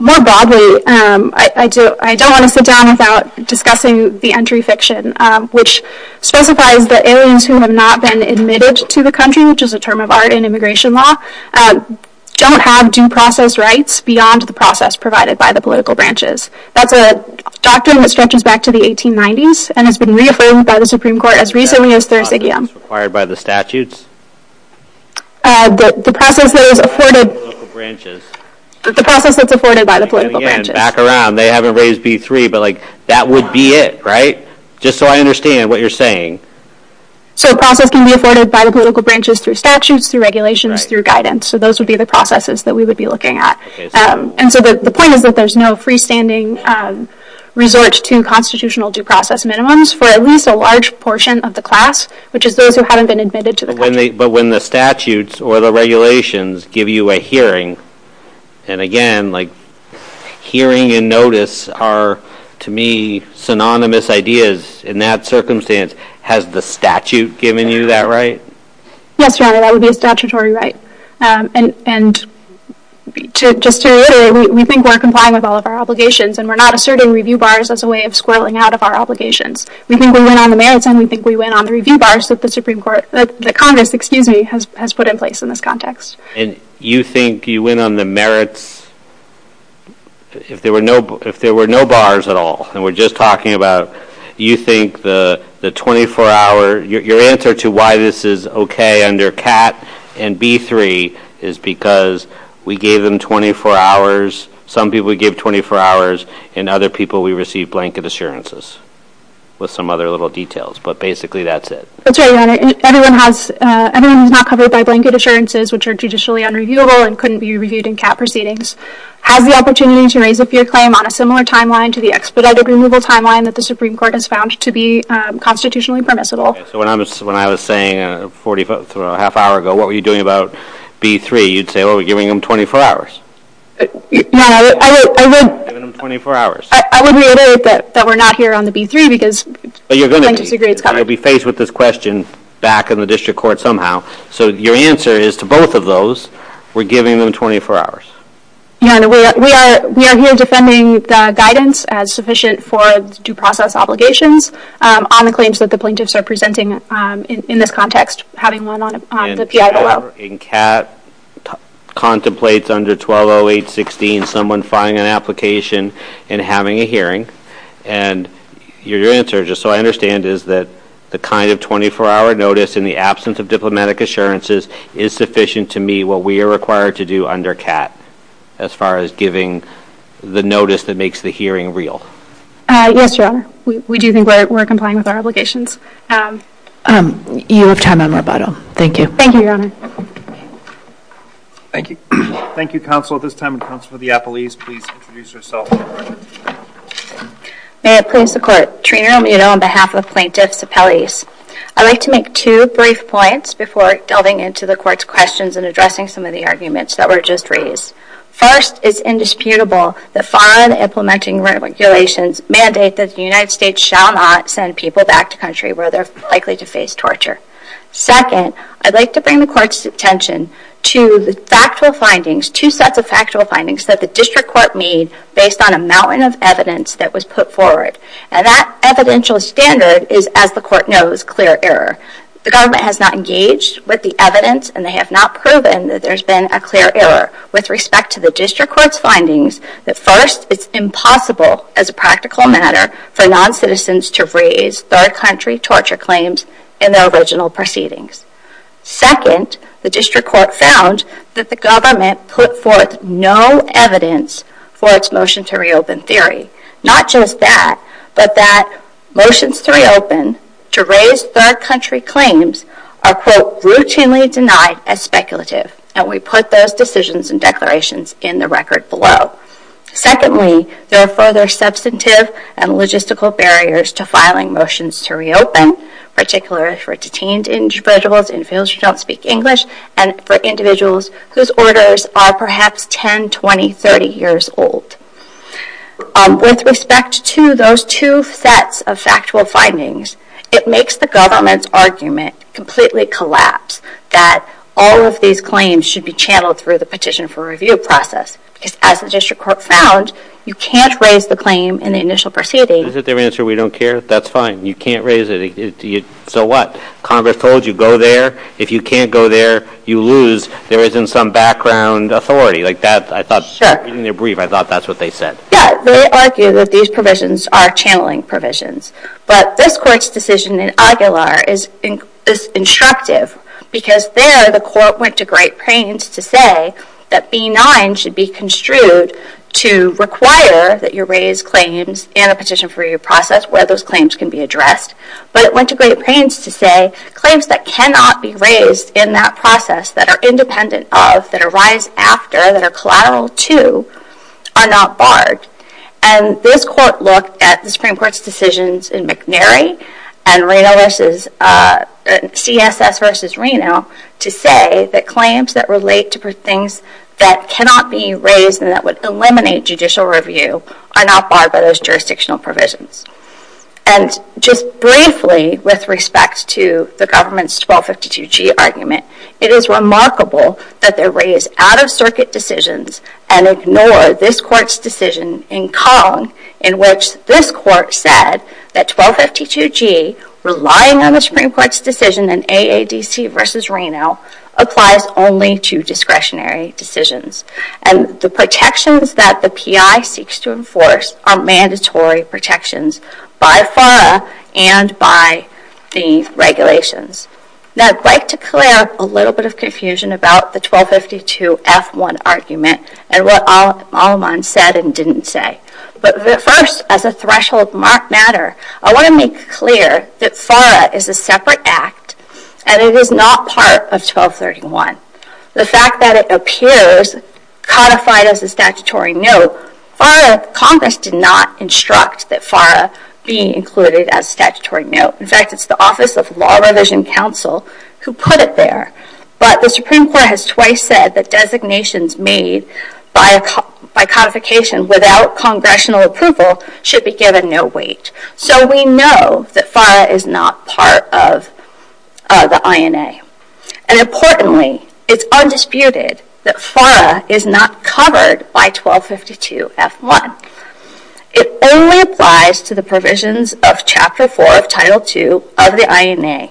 More broadly, I don't want to sit down without discussing the entry fiction, which specifies that aliens who have not been admitted to the country, which is a term of art in immigration law, don't have due process rights beyond the process provided by the political branches. That's a doctrine that stretches back to the 1890s and has been reaffirmed by the Supreme Court as recently as Thursday. The process is required by the statutes? The process is afforded by the political branches. The process is afforded by the political branches. Again, back around. They haven't raised B3, but that would be it, right? Just so I understand what you're saying. So a process can be afforded by the political branches through statutes, through regulations, through guidance. So those would be the processes that we would be looking at. And so the point is that there's no freestanding resort to constitutional due process minimums for at least a large portion of the class, which is those who haven't been admitted to the country. But when the statutes or the regulations give you a hearing, and again, like hearing and notice are, to me, synonymous ideas in that circumstance, has the statute given you that right? Yes, Your Honor, that would be a statutory right. And just to reiterate, we think we're complying with all of our obligations, and we're not asserting review bars as a way of squirreling out of our obligations. We think we went on the merits, and we think we went on the review bars that the Congress has put in place in this context. And you think you went on the merits if there were no bars at all, and we're just talking about you think the 24-hour, your answer to why this is okay under CAT and B3 is because we gave them 24 hours. Some people we gave 24 hours, and other people we received blanket assurances with some other little details. But basically, that's it. That's right, Your Honor. Everyone who's not covered by blanket assurances, which are judicially unreviewable and couldn't be reviewed in CAT proceedings, has the opportunity to raise a fear claim on a similar timeline to the expedited removal timeline that the Supreme Court has found to be constitutionally permissible. So when I was saying a half hour ago, what were you doing about B3, you'd say, well, we're giving them 24 hours. Your Honor, I would... We're giving them 24 hours. I would reiterate that we're not here on the B3 because... But you're going to be. I'm going to be faced with this question back in the district court somehow. So your answer is to both of those, we're giving them 24 hours. Your Honor, we are here defending the guidance as sufficient for due process obligations on the claims that the plaintiffs are presenting in this context, having them on the PIO. Your Honor, in CAT, contemplates under 1208.16, someone filing an application and having a hearing. And your answer, just so I understand, is that the kind of 24-hour notice in the absence of diplomatic assurances is sufficient to meet what we are required to do under CAT as far as giving the notice that makes the hearing real. Yes, Your Honor. We do think that we're complying with our obligations. You have time on rebuttal. Thank you. Thank you, Your Honor. Thank you. Thank you, Counsel. At this time, Counsel for the Appellees, please introduce yourself. May it please the Court. Trina Romero on behalf of the Plaintiffs' Appellees. I'd like to make two brief points before delving into the Court's questions and addressing some of the arguments that were just raised. First, it's indisputable that foreign implementing regulations mandate that the United States shall not send people back to a country where they're likely to face torture. Second, I'd like to bring the Court's attention to the factual findings, two sets of factual findings that the District Court made based on a mountain of evidence that was put forward. And that evidential standard is, as the Court knows, clear error. The government has not engaged with the evidence, and they have not proven that there's been a clear error. With respect to the District Court findings, first, it's impossible as a practical matter for noncitizens to raise third-country torture claims in their original proceedings. Second, the District Court found that the government put forth no evidence for its motion to reopen theory. Not just that, but that motions to reopen to raise third-country claims are, quote, routinely denied as speculative. And we put those decisions and declarations in the record below. Secondly, there are further substantive and logistical barriers to filing motions to reopen, particularly for detained individuals in fields who don't speak English and for individuals whose orders are perhaps 10, 20, 30 years old. With respect to those two sets of factual findings, it makes the government's argument completely collapse that all of these claims should be channeled through the petition for review process. As the District Court found, you can't raise the claim in the initial proceedings. Is it their answer we don't care? That's fine. You can't raise it. So what? Congress told you, go there. If you can't go there, you lose. There isn't some background authority. Like that, I thought, in their brief, I thought that's what they said. Yeah. They argue that these provisions are channeling provisions. But this court's decision in Aguilar is instructive because there the court went to great pains to say that B-9 should be construed to require that you raise claims in a petition for review process where those claims can be addressed. But it went to great pains to say claims that cannot be raised in that process, that are independent of, that arise after, that are collateral to, are not barred. And this court looked at the Supreme Court's decisions in McNary and CSS v. Reno to say that claims that relate to things that cannot be raised and that would eliminate judicial review are not barred by those jurisdictional provisions. And just briefly with respect to the government's 1252G argument, it is remarkable that they raise out-of-circuit decisions and ignore this court's decision in Kong in which this court said that 1252G, relying on the Supreme Court's decision in AADC v. Reno, applies only to discretionary decisions. And the protections that the PI seeks to enforce are mandatory protections by FARA and by the regulations. Now I'd like to clear up a little bit of confusion about the 1252F1 argument and what Al-Aman said and didn't say. But first, as a threshold matter, I want to make clear that FARA is a separate act and it is not part of 1231. The fact that it appears codified as a statutory note, Congress did not instruct that FARA be included as a statutory note. In fact, it's the Office of Law Revision Counsel who put it there. But the Supreme Court has twice said that designations made by codification without Congressional approval should be given no weight. So we know that FARA is not part of the INA. And importantly, it's undisputed that FARA is not covered by 1252F1. It only applies to the provisions of Chapter 4 of Title II of the INA.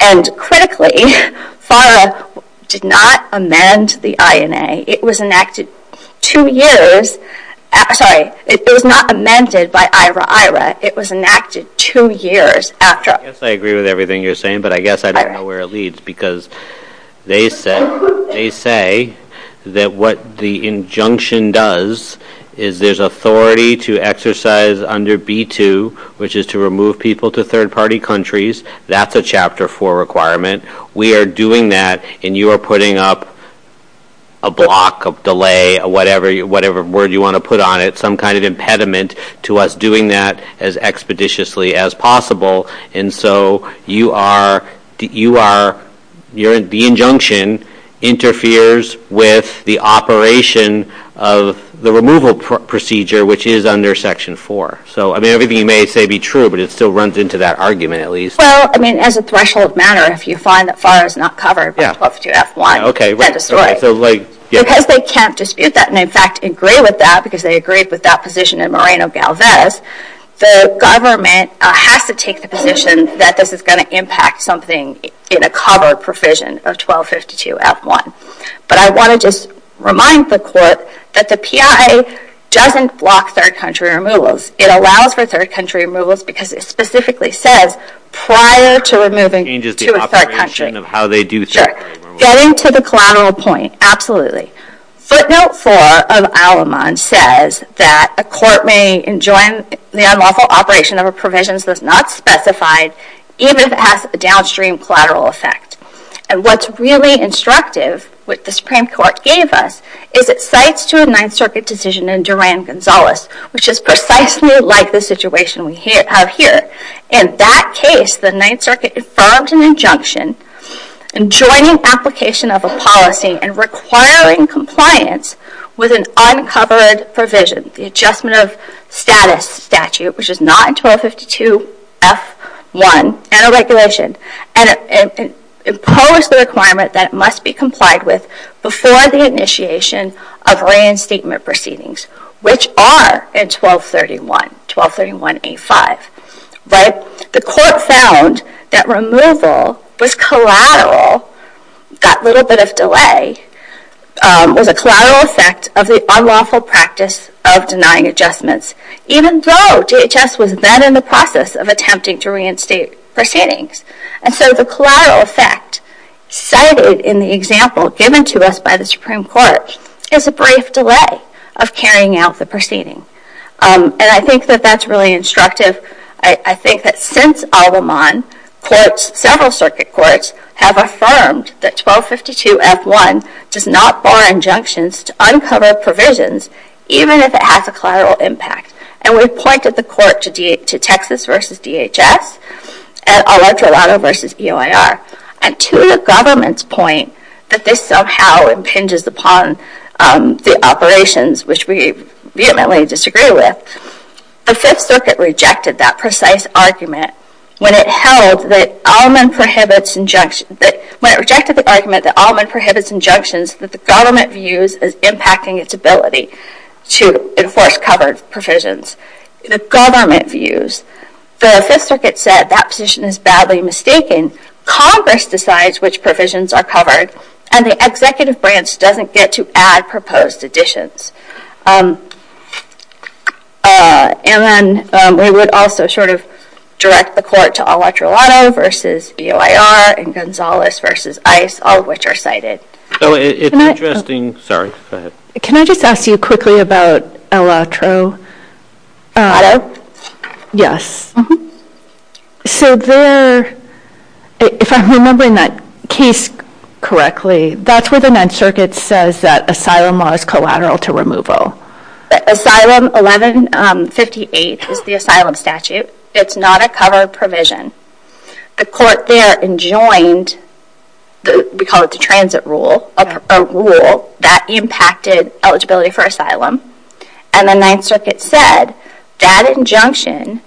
And critically, FARA did not amend the INA. It was enacted two years after – sorry, it was not amended by IHRA-IHRA. It was enacted two years after. I guess I agree with everything you're saying, but I guess I don't know where it leads because they say that what the injunction does is there's authority to exercise under B2, which is to remove people to third-party countries. That's a Chapter 4 requirement. We are doing that, and you are putting up a block of delay, whatever word you want to put on it, some kind of impediment to us doing that as expeditiously as possible. And so you are – the injunction interferes with the operation of the removal procedure, which is under Section 4. So, I mean, everything you may say be true, but it still runs into that argument at least. Well, I mean, as a threshold matter, if you find that FARA is not covered by 1252F1, that's right. Because they can't dispute that, and in fact agree with that because they agreed with that position in Moreno-Galvez, the government has to take the position that this is going to impact something in a covered provision of 1252F1. But I want to just remind the Court that the PIA doesn't block third-country removals. It allows for third-country removals because it specifically says prior to removing to a third country. It changes the operation of how they do third-country removals. Getting to the collateral point, absolutely. Footnote 4 of Al-Aman says that a court may enjoin the unlawful operation of a provision that's not specified, even if it has a downstream collateral effect. And what's really instructive, what the Supreme Court gave us, is it cites to a Ninth Circuit decision in Duran-Gonzalez, which is precisely like the situation we have here. In that case, the Ninth Circuit deferred an injunction enjoining application of a policy and requiring compliance with an uncovered provision, the Adjustment of Status statute, which is not in 1252F1, and a regulation. And it imposed the requirement that it must be complied with before the initiation of reinstatement proceedings, which are in 1231, 1231A5. But the court found that removal was collateral, got a little bit of delay, with a collateral effect of the unlawful practice of denying adjustments, even though DHS was then in the process of attempting to reinstate proceedings. And so the collateral effect cited in the example given to us by the Supreme Court is a brief delay of carrying out the proceeding. And I think that that's really instructive. I think that since Alderman, several circuit courts have affirmed that 1252F1 does not bar injunctions to uncovered provisions, even if it has a collateral impact. And we've pointed the court to Texas v. DHS, and Eletrolado v. EOIR, and to the government's point that this somehow impinges upon the operations, which we vehemently disagree with, the Fifth Circuit rejected that precise argument when it held that Alderman prohibits injunctions, when it rejected the argument that Alderman prohibits injunctions that the government views as impacting its ability to enforce covered provisions. The government views. The Fifth Circuit said that position is badly mistaken. Congress decides which provisions are covered, and the executive branch doesn't get to add proposed additions. And then we would also sort of direct the court to Eletrolado v. EOIR, and Gonzalez v. ICE, all of which are cited. Can I just ask you quickly about Eletrolado? Yes. So there, if I'm remembering that case correctly, that's where the Ninth Circuit says that asylum law is collateral to removal. Asylum 1158 is the asylum statute. It's not a covered provision. The court there enjoined what we call the transit rule, a rule that impacted eligibility for asylum, and the Ninth Circuit said that injunction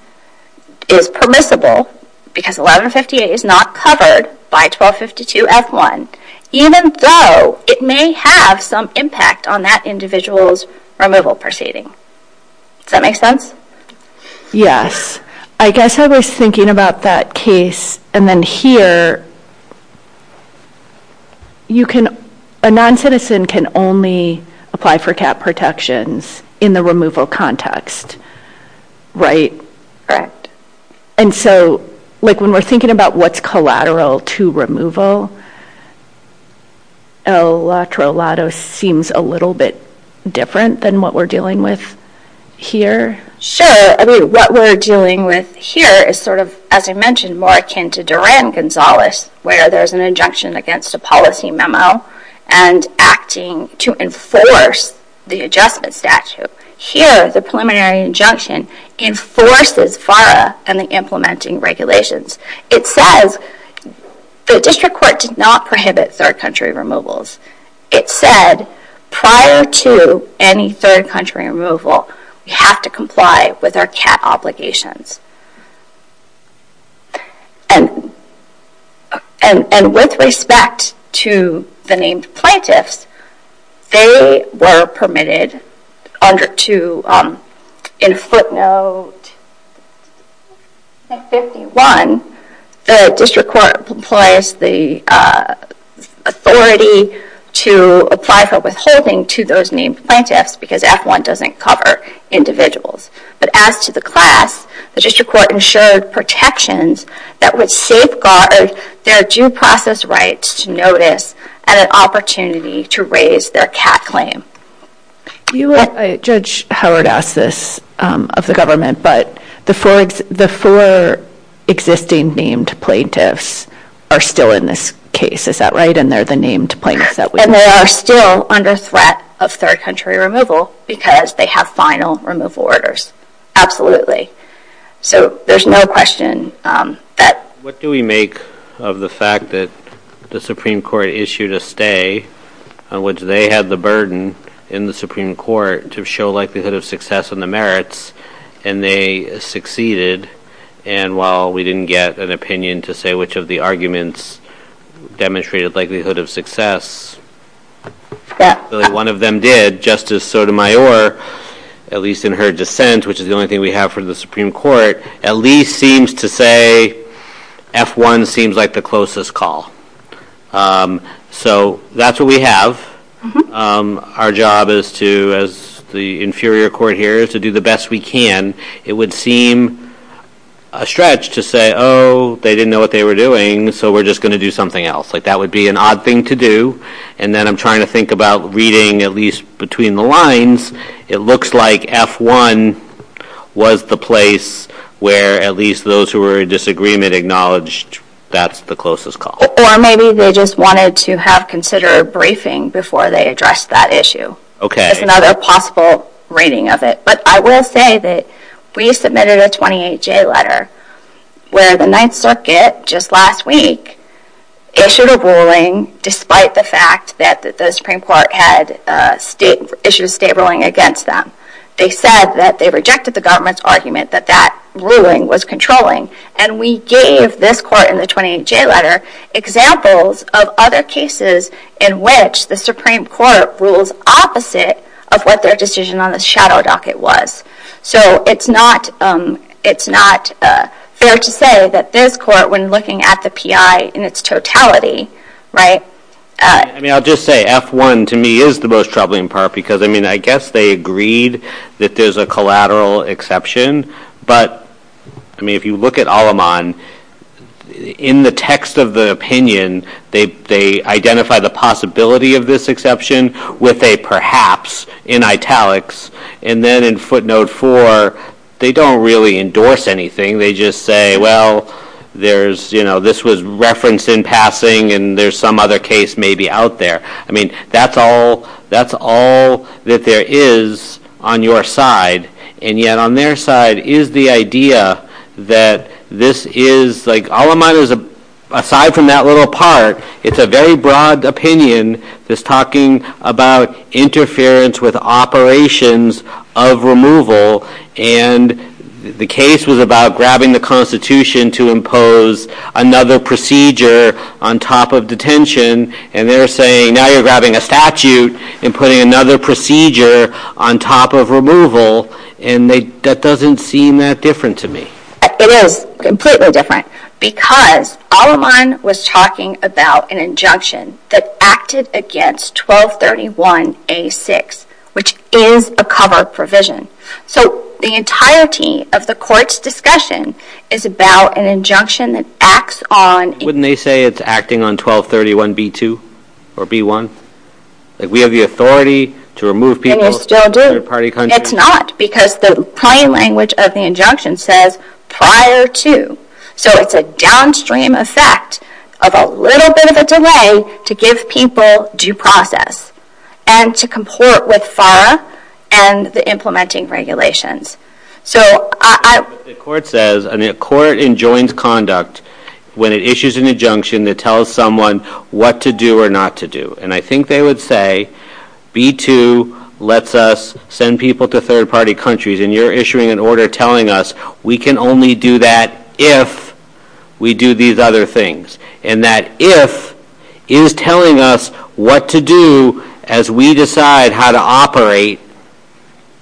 is permissible because 1158 is not covered by 1252F1, even though it may have some impact on that individual's removal proceeding. Does that make sense? Yes. I guess I was thinking about that case, and then here, a noncitizen can only apply for cap protections in the removal context, right? Correct. And so, like, when we're thinking about what's collateral to removal, Eletrolado seems a little bit different than what we're dealing with here. Sure. I mean, what we're dealing with here is sort of, as I mentioned, more akin to Duran-Gonzalez, where there's an injunction against a policy memo and acting to enforce the adjustment statute. Here, the preliminary injunction enforces FARA and the implementing regulations. It says the district court did not prohibit third-country removals. It said prior to any third-country removal, we have to comply with our cap obligations. And with respect to the named plaintiffs, they were permitted to, in footnote 51, the district court implies the authority to apply for withholding to those named plaintiffs because F1 doesn't cover individuals. But as to the class, the district court ensured protections that would safeguard their due process rights to notice and an opportunity to raise their cap claim. Judge Howard asked this of the government, but the four existing named plaintiffs are still in this case, is that right? And they're the named plaintiffs that we have. And they are still under threat of third-country removal because they have final removal orders. Absolutely. So there's no question that... What do we make of the fact that the Supreme Court issued a stay in which they had the burden in the Supreme Court to show likelihood of success in the merits, and they succeeded? And while we didn't get an opinion to say which of the arguments demonstrated likelihood of success, one of them did, Justice Sotomayor, at least in her dissent, which is the only thing we have from the Supreme Court, at least seems to say F1 seems like the closest call. So that's what we have. Our job as the inferior court here is to do the best we can. It would seem a stretch to say, oh, they didn't know what they were doing, so we're just going to do something else. That would be an odd thing to do. And then I'm trying to think about reading at least between the lines. It looks like F1 was the place where at least those who were in disagreement acknowledged that's the closest call. Or maybe they just wanted to have considered a briefing before they addressed that issue. Okay. That's another possible reading of it. But I will say that we submitted a 28-J letter where the Ninth Circuit just last week issued a ruling despite the fact that the Supreme Court had issued a state ruling against them. They said that they rejected the government's argument that that ruling was controlling. And we gave this court in the 28-J letter examples of other cases in which the Supreme Court ruled opposite of what their decision on the shadow docket was. So it's not fair to say that this court, when looking at the PI in its totality, right? I mean, I'll just say F1 to me is the most troubling part because, I mean, I guess they agreed that there's a collateral exception. But, I mean, if you look at Aleman, in the text of the opinion, they identify the possibility of this exception with a perhaps in italics. And then in footnote four, they don't really endorse anything. They just say, well, there's, you know, this was referenced in passing and there's some other case maybe out there. I mean, that's all that there is on your side. And yet on their side is the idea that this is, like, Aleman is, aside from that little part, it's a very broad opinion that's talking about interference with operations of removal. And the case was about grabbing the Constitution to impose another procedure on top of detention. And they're saying now you're grabbing a statute and putting another procedure on top of removal. And that doesn't seem that different to me. It is completely different because Aleman was talking about an injunction that acted against 1231A6, which is a cover provision. So the entirety of the court's discussion is about an injunction that acts on Wouldn't they say it's acting on 1231B2 or B1? That we have the authority to remove people from their party country? It's not because the plain language of the injunction says prior to. So it's a downstream effect of a little bit of a delay to give people due process and to comport with FARA and the implementing regulations. So I — The court says, I mean, a court enjoins conduct when it issues an injunction that tells someone what to do or not to do. And I think they would say B2 lets us send people to third-party countries. And you're issuing an order telling us we can only do that if we do these other things. And that if is telling us what to do as we decide how to operate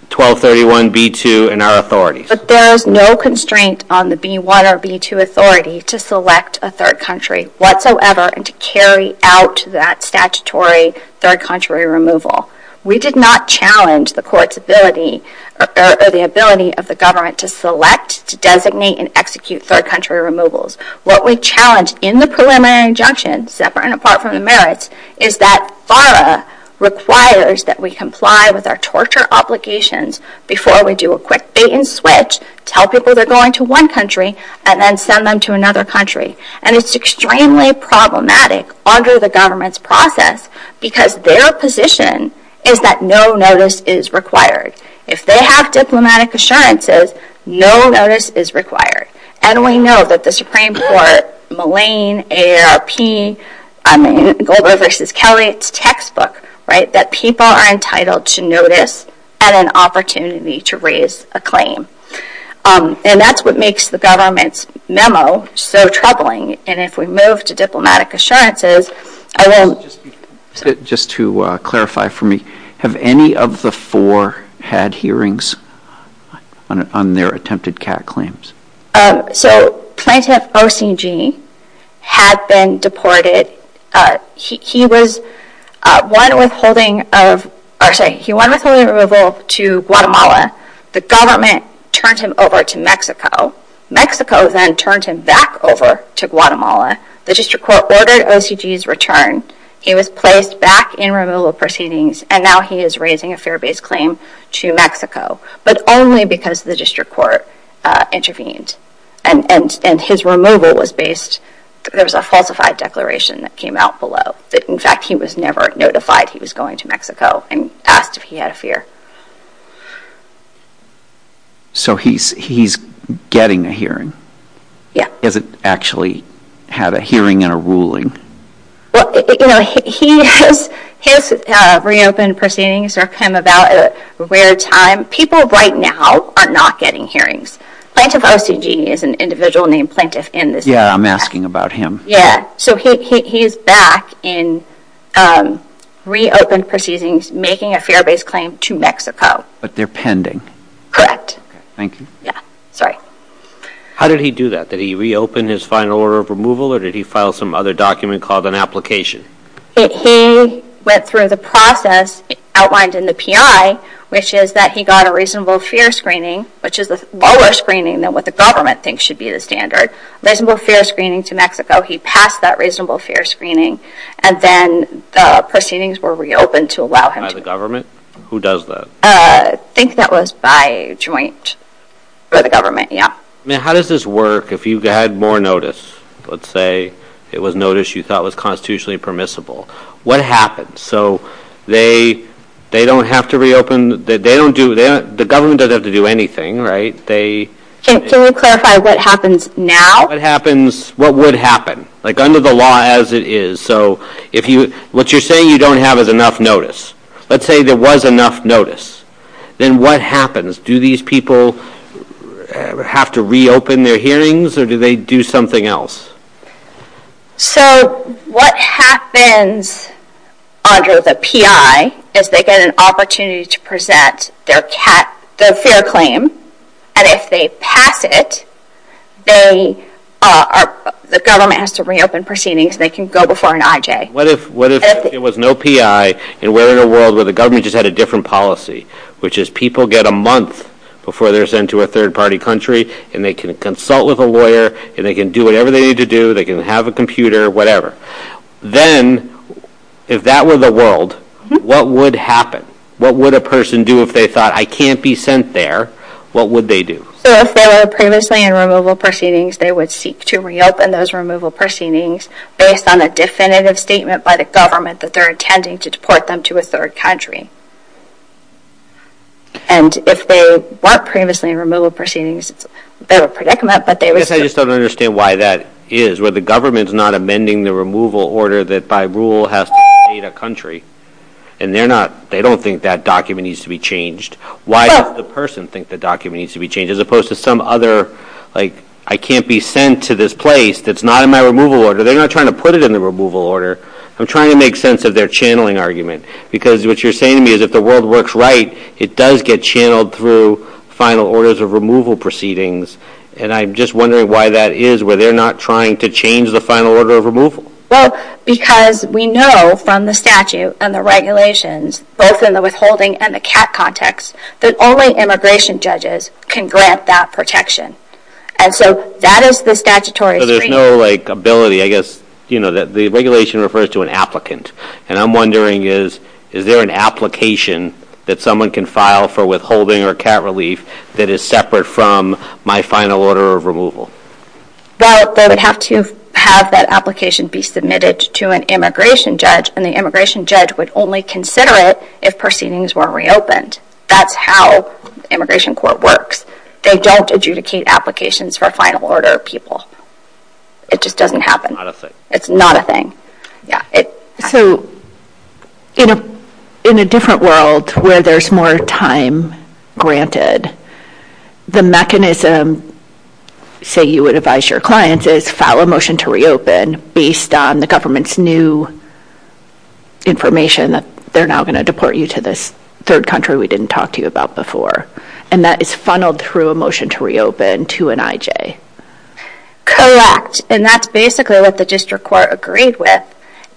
1231B2 and our authorities. But there is no constraint on the B1 or B2 authority to select a third country whatsoever and to carry out that statutory third-country removal. We did not challenge the court's ability or the ability of the government to select, to designate and execute third-country removals. What we challenged in the preliminary injunction, separate and apart from the merits, is that FARA requires that we comply with our torture obligations before we do a quick bait-and-switch, tell people they're going to one country and then send them to another country. And it's extremely problematic under the government's process because their position is that no notice is required. If they have diplomatic assurances, no notice is required. And we know that the Supreme Court, Mallain, AARP, Glover v. Kelly, it's textbook, right, that people are entitled to notice at an opportunity to raise a claim. And that's what makes the government's memo so troubling. And if we move to diplomatic assurances... Just to clarify for me, have any of the four had hearings on their attempted CAT claims? So plaintiff O.C.G. had been deported. He won withholding of removal to Guatemala. The government turned him over to Mexico. Mexico then turned him back over to Guatemala. The district court ordered O.C.G.'s return. He was placed back in removal proceedings, and now he is raising a fair-based claim to Mexico, but only because the district court intervened. And his removal was based... There was a falsified declaration that came out below that, in fact, he was never notified he was going to Mexico and asked if he had a fear. So he's getting a hearing? Yeah. Has it actually had a hearing and a ruling? Well, you know, his reopen proceedings are kind of about at a rare time. People right now are not getting hearings. Plaintiff O.C.G. is an individual named Plaintiff in this case. Yeah, I'm asking about him. Yeah. So he's back in reopened proceedings, making a fair-based claim to Mexico. But they're pending. Thank you. Yeah. Sorry. How did he do that? Did he reopen his final order of removal, or did he file some other document called an application? He went through the process outlined in the P.I., which is that he got a reasonable fear screening, which is a lower screening than what the government thinks should be the standard. He got a reasonable fear screening to Mexico. He passed that reasonable fear screening, and then the proceedings were reopened to allow him to go. By the government? Who does that? I think that was by a joint for the government, yeah. How does this work if you had more notice? Let's say it was notice you thought was constitutionally permissible. What happens? So they don't have to reopen? The government doesn't have to do anything, right? Can you clarify what happens now? What would happen? Like under the law as it is. So what you're saying you don't have is enough notice. Let's say there was enough notice. Then what happens? Do these people have to reopen their hearings, or do they do something else? So what happens under the P.I. if they get an opportunity to present their fear claim, and if they pass it, the government has to reopen proceedings so they can go before an I.J.? What if there was no P.I., and we're in a world where the government just had a different policy, which is people get a month before they're sent to a third-party country, and they can consult with a lawyer, and they can do whatever they need to do. They can have a computer, whatever. Then if that were the world, what would happen? What would a person do if they thought, I can't be sent there? What would they do? So if they were previously in removal proceedings, they would seek to reopen those removal proceedings based on a definitive statement by the government that they're intending to deport them to a third country. And if they weren't previously in removal proceedings, they would predict that they would... I just don't understand why that is, where the government's not amending the removal order that by rule has to state a country, and they don't think that document needs to be changed. Why does the person think the document needs to be changed, as opposed to some other, like, I can't be sent to this place that's not in my removal order? They're not trying to put it in the removal order. I'm trying to make sense of their channeling argument, because what you're saying to me is if the world works right, it does get channeled through final orders of removal proceedings, and I'm just wondering why that is, where they're not trying to change the final order of removal. Well, because we know from the statute and the regulations, both in the withholding and the CAT context, that only immigration judges can grant that protection. And so that is the statutory... So there's no, like, ability, I guess, you know, that the regulation refers to an applicant. And I'm wondering, is there an application that someone can file for withholding or CAT relief that is separate from my final order of removal? Well, they would have to have that application be submitted to an immigration judge, and the immigration judge would only consider it if proceedings were reopened. That's how immigration court works. They don't adjudicate applications for final order of people. It just doesn't happen. Not a thing. It's not a thing. So, you know, in a different world where there's more time granted, the mechanism, say you would advise your clients, is file a motion to reopen based on the government's new information that they're now going to deport you to this third country we didn't talk to you about before. And that is funneled through a motion to reopen to an IJ. Correct. And that's basically what the district court agreed with.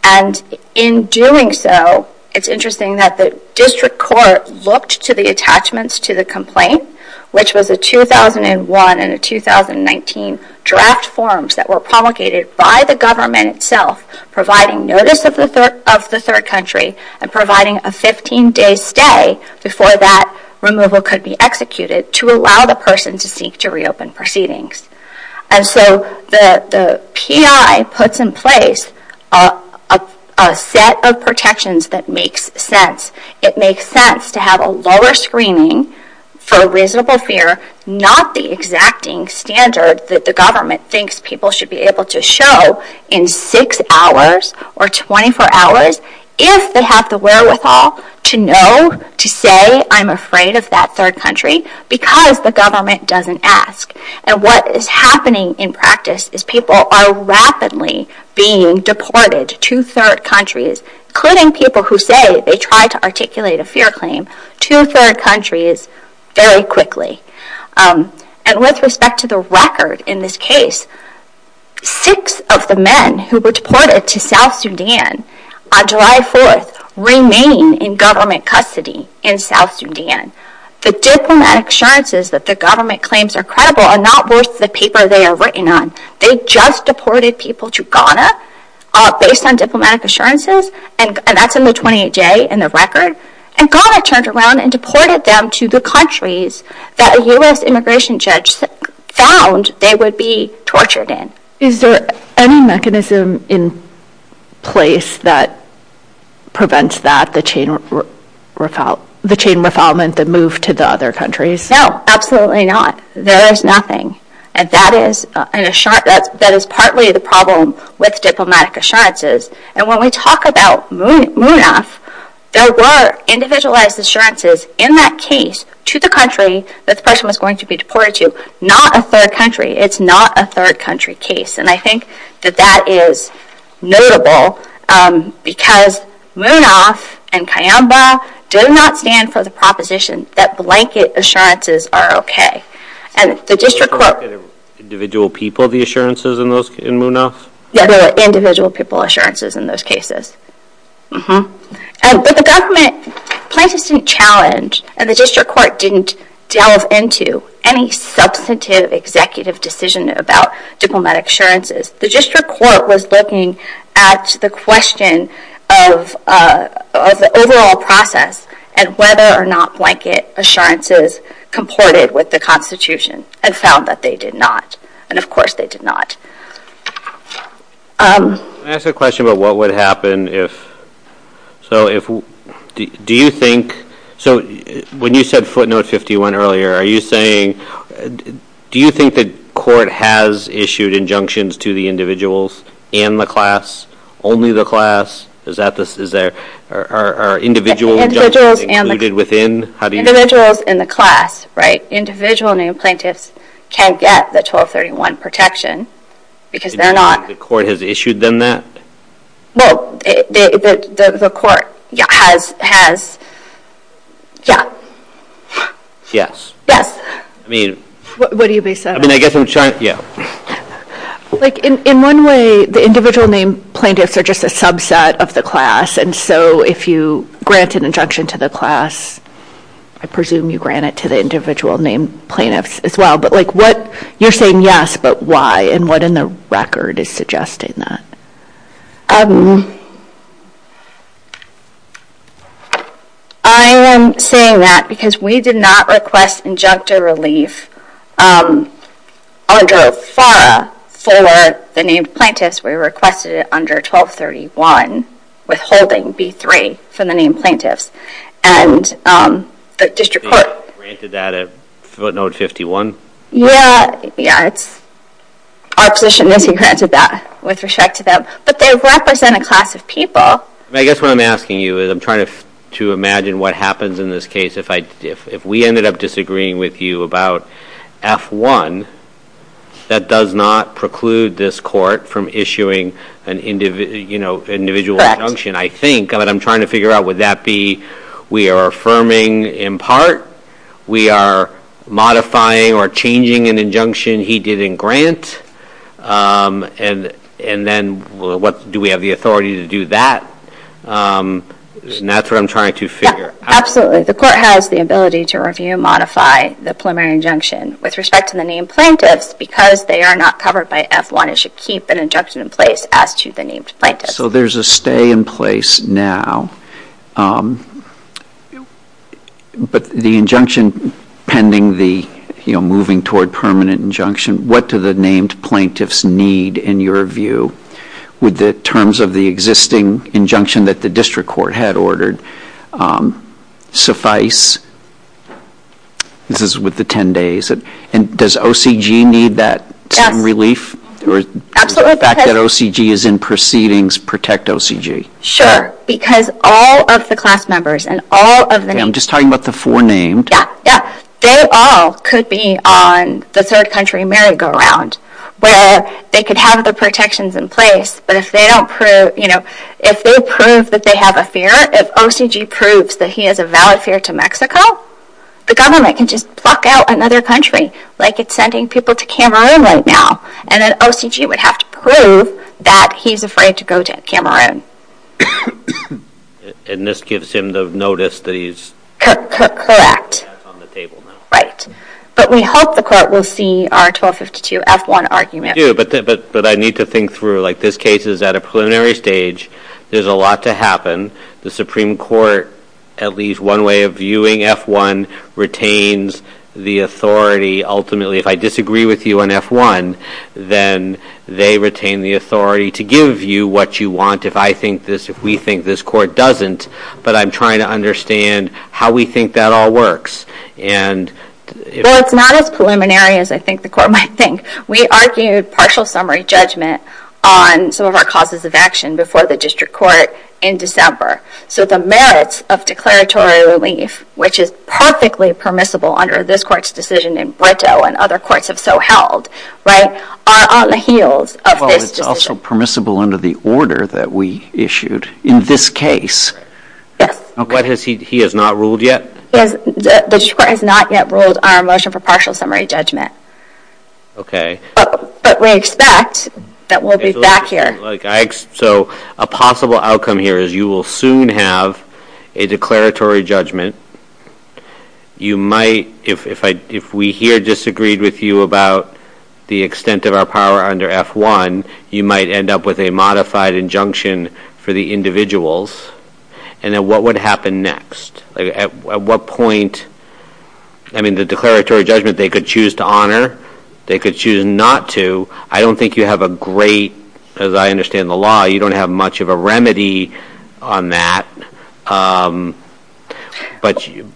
And in doing so, it's interesting that the district court looked to the attachments to the complaint, which was a 2001 and a 2019 draft forms that were promulgated by the government itself, providing notice of the third country and providing a 15-day stay before that removal could be executed to allow the person to seek to reopen proceedings. And so the PI puts in place a set of protections that makes sense. It makes sense to have a lower screening for reasonable fear, not the exacting standard that the government thinks people should be able to show in six hours or 24 hours if they have the wherewithal to know, to say, I'm afraid of that third country because the government doesn't ask. And what is happening in practice is people are rapidly being deported to third countries, including people who say they try to articulate a fear claim to third countries very quickly. And with respect to the record in this case, six of the men who were deported to South Sudan on July 4th remain in government custody in South Sudan. The diplomatic assurances that the government claims are credible are not worth the paper they are written on. They just deported people to Ghana based on diplomatic assurances, and that's in the 28-J in the record. And Ghana turned around and deported them to the countries that a U.S. immigration judge found they would be tortured in. Is there any mechanism in place that prevents that, the chain refoulement that moved to the other countries? No, absolutely not. There is nothing. And that is partly the problem with diplomatic assurances. And when we talk about MUNAS, there were individualized assurances in that case to the country that the person was going to be deported to. Not a third country. It's not a third country case. And I think that that is notable because MUNAS and Kayamba do not stand for the proposition that blanket assurances are okay. And the district court... Individual people, the assurances in MUNAS? Yeah, there are individual people assurances in those cases. But the government places some challenge, and the district court didn't delve into any substantive executive decision about diplomatic assurances. The district court was looking at the question of the overall process and whether or not blanket assurances comported with the Constitution and found that they did not. And of course they did not. Can I ask a question about what would happen if... Do you think... When you said footnote 51 earlier, are you saying... Do you think the court has issued injunctions to the individuals and the class? Only the class? Are individual injunctions included within? Individuals and the class. Individual named plaintiffs can't get the 1231 protection because they're not... Do you think the court has issued them that? Well, the court has... Yes. Yes. I mean... What do you mean? I mean, I guess I'm trying... Yeah. In one way, the individual named plaintiffs are just a subset of the class, and so if you grant an injunction to the class, I presume you grant it to the individual named plaintiffs as well, but you're saying yes, but why? And what in the record is suggesting that? I am saying that because we did not request injunctive relief under FARA for the named plaintiffs. We requested it under 1231 withholding B3 for the named plaintiffs. And the district court... Granted that at note 51? Yeah. Our position is we granted that with respect to them, but they represent a class of people. I guess what I'm asking you is I'm trying to imagine what happens in this case if we ended up disagreeing with you about F1, that does not preclude this court from issuing an individual injunction, I think, but I'm trying to figure out would that be we are affirming in part, we are modifying or changing an injunction he didn't grant, and then do we have the authority to do that? And that's what I'm trying to figure. Absolutely. The court has the ability to review and modify the preliminary injunction with respect to the named plaintiffs because they are not covered by F1. It should keep an injunction in place as to the named plaintiffs. So there's a stay in place now, but the injunction pending the moving toward permanent injunction, what do the named plaintiffs need in your view? Would the terms of the existing injunction that the district court had ordered suffice? This is with the 10 days. Does OCG need that time relief? Absolutely. The fact that OCG is in proceedings protect OCG. Sure. Because all of the class members and all of the names. I'm just talking about the four named. Yeah, yeah. They all could be on the third country merry-go-round where they could have the protections in place, but if they don't prove, you know, if they prove that they have a fear, if OCG proves that he has a valid fear to Mexico, the government can just fuck out another country, like it's sending people to Cameroon right now, and then OCG would have to prove that he's afraid to go to Cameroon. And this gives him the notice that he's on the table now. Right. But we hope the court will see our 1252 F-1 argument. But I need to think through. Like this case is at a preliminary stage. There's a lot to happen. The Supreme Court, at least one way of viewing F-1, retains the authority ultimately. If I disagree with you on F-1, then they retain the authority to give you what you want. If I think this, if we think this, court doesn't. But I'm trying to understand how we think that all works. Well, it's not as preliminary as I think the court might think. We argued partial summary judgment on some of our causes of action before the district court in December. So the merits of declaratory relief, which is perfectly permissible under this court's decision in Brito and other courts have so held, right, are on the heels of this decision. Well, it's also permissible under the order that we issued in this case. Yeah. What has he, he has not ruled yet? The district court has not yet ruled our motion for partial summary judgment. Okay. But we expect that we'll be back here. So a possible outcome here is you will soon have a declaratory judgment. You might, if we here disagreed with you about the extent of our power under F-1, you might end up with a modified injunction for the individuals. And then what would happen next? At what point, I mean, the declaratory judgment they could choose to honor, they could choose not to. I don't think you have a great, as I understand the law, you don't have much of a remedy on that. I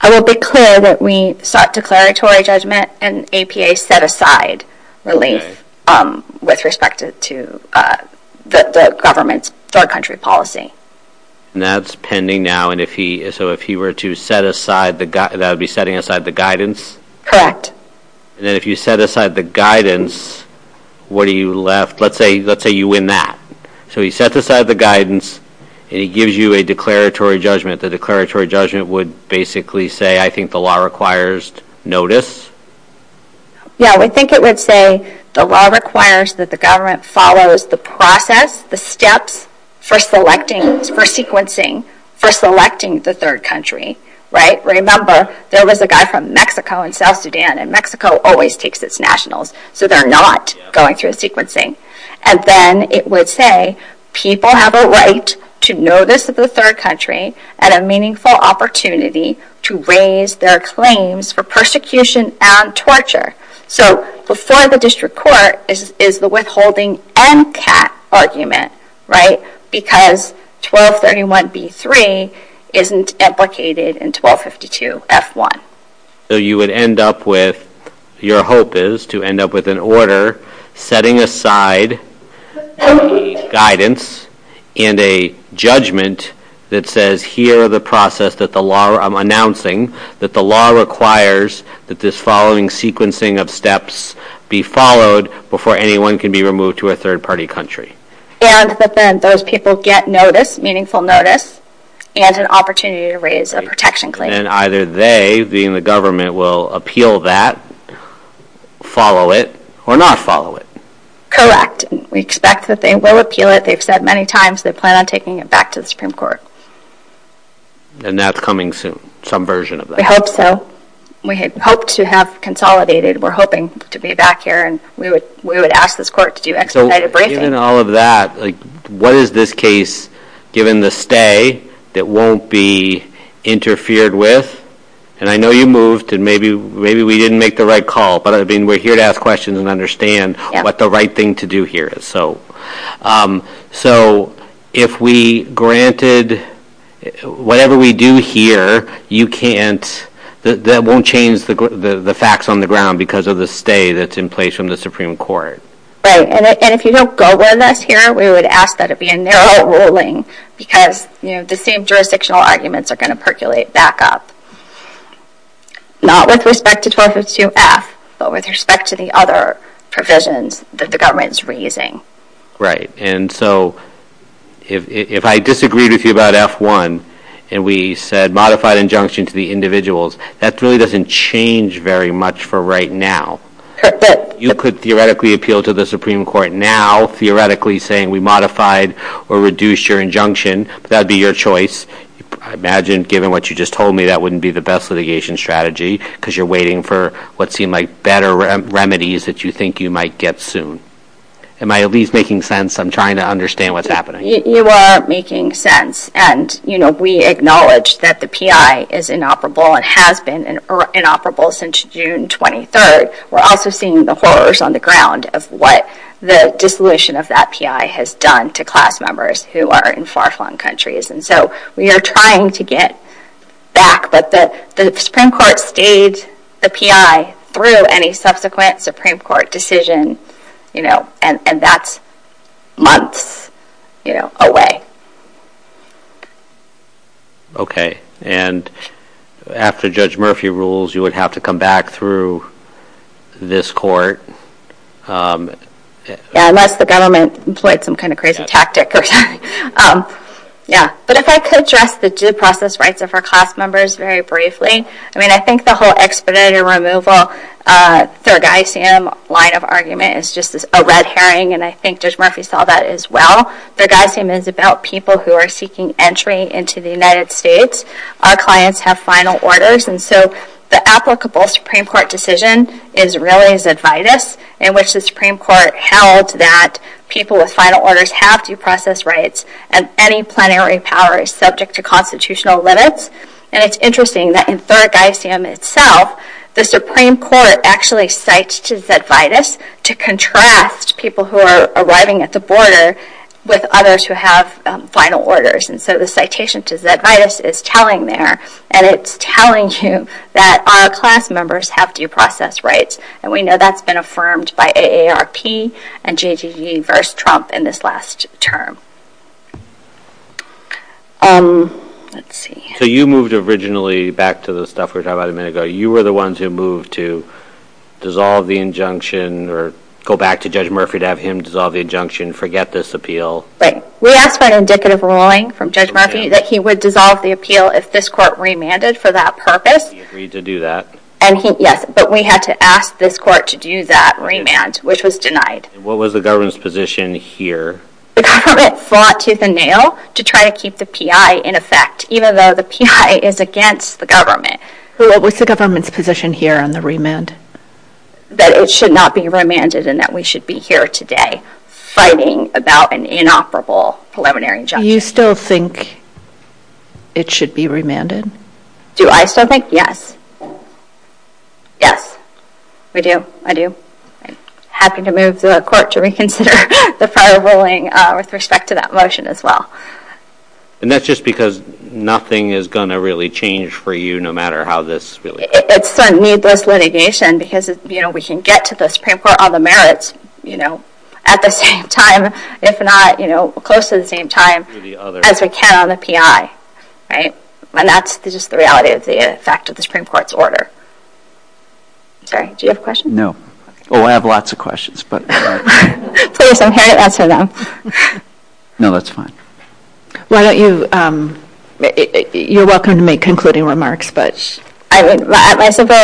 will be clear that we sought declaratory judgment and APA set aside relief with respect to the government's third country policy. And that's pending now. And so if he were to set aside, that would be setting aside the guidance? Correct. And then if you set aside the guidance, what do you left? Let's say you win that. So he sets aside the guidance and he gives you a declaratory judgment. The declaratory judgment would basically say, I think the law requires notice? Yeah, we think it would say the law requires that the government follows the process, the steps for selecting, for sequencing, for selecting the third country, right? Remember, there was a guy from Mexico and South Sudan, and Mexico always takes its nationals, so they're not going through sequencing. And then it would say people have a right to notice the third country and a meaningful opportunity to raise their claims for persecution and torture. So before the district court is the withholding MCAT argument, right, because 1231B3 isn't implicated in 1252F1. So you would end up with, your hope is to end up with an order setting aside guidance and a judgment that says here are the process that the law, I'm announcing that the law requires that this following sequencing of steps be followed before anyone can be removed to a third-party country. And that then those people get notice, meaningful notice, and an opportunity to raise a protection claim. And either they, being the government, will appeal that, follow it, or not follow it. Correct. We expect that they will appeal it. They've said many times they plan on taking it back to the Supreme Court. And that's coming soon, some version of that. We hope so. We hope to have consolidated. We're hoping to be back here and we would ask this court to do expedited briefing. Given all of that, what is this case, given the stay, that won't be interfered with? And I know you moved and maybe we didn't make the right call, but we're here to ask questions and understand what the right thing to do here is. So if we granted whatever we do here, you can't, that won't change the facts on the ground because of the stay that's in place from the Supreme Court. Right. And if you don't go with us here, we would ask that it be a narrow ruling because the same jurisdictional arguments are going to percolate back up. Not with respect to 1252F, but with respect to the other provisions that the government is raising. Right. And so if I disagreed with you about F1 and we said modified injunction to the individuals, that really doesn't change very much for right now. Correct. You could theoretically appeal to the Supreme Court now, theoretically saying we modified or reduced your injunction. That would be your choice. I imagine, given what you just told me, that wouldn't be the best litigation strategy because you're waiting for what seem like better remedies that you think you might get soon. Am I at least making sense? I'm trying to understand what's happening. You are making sense. And, you know, we acknowledge that the PI is inoperable and has been inoperable since June 23rd. But we're also seeing the horrors on the ground of what the dissolution of that PI has done to class members who are in far-flung countries. And so we are trying to get back. But the Supreme Court stayed the PI through any subsequent Supreme Court decision, you know, and that's months away. Okay. And after Judge Murphy rules, you would have to come back through this court. Yeah, unless the government employed some kind of crazy tactic, okay. Yeah. But if I could address the due process rights of our class members very briefly, I mean, I think the whole expedited removal, their guy-sam line of argument is just a red herring, and I think Judge Murphy saw that as well. Their guy-sam is about people who are seeking entry into the United States. Our clients have final orders. And so the applicable Supreme Court decision is really Zedvitus, in which the Supreme Court held that people with final orders have due process rights and any plenary power is subject to constitutional limits. And it's interesting that in their guy-sam itself, the Supreme Court actually cites to Zedvitus to contrast people who are arriving at the border with others who have final orders. And so the citation to Zedvitus is telling there, and it's telling you that our class members have due process rights. And we know that's been affirmed by AARP and JGE versus Trump in this last term. Let's see. So you moved originally back to the stuff we were talking about a minute ago. So you were the ones who moved to dissolve the injunction or go back to Judge Murphy to have him dissolve the injunction, forget this appeal. We asked for an indicative ruling from Judge Murphy that he would dissolve the appeal if this court remanded for that purpose. He agreed to do that. Yes, but we had to ask this court to do that remand, which was denied. What was the government's position here? The government fought tooth and nail to try to keep the PI in effect, even though the PI is against the government. What was the government's position here on the remand? That it should not be remanded and that we should be here today fighting about an inoperable preliminary injunction. Do you still think it should be remanded? Do I still think? Yes. Yes, I do. I'm happy to move the court to reconsider the final ruling with respect to that motion as well. And that's just because nothing is going to really change for you no matter how this goes? It's a needless litigation because we can get to the Supreme Court on the merits at the same time, if not close to the same time, as we can on the PI. And that's just the reality of the fact of the Supreme Court's order. Sorry, do you have a question? No. Oh, I have lots of questions. Please, I'm here to answer them. No, that's fine. Why don't you, you're welcome to make concluding remarks. My simple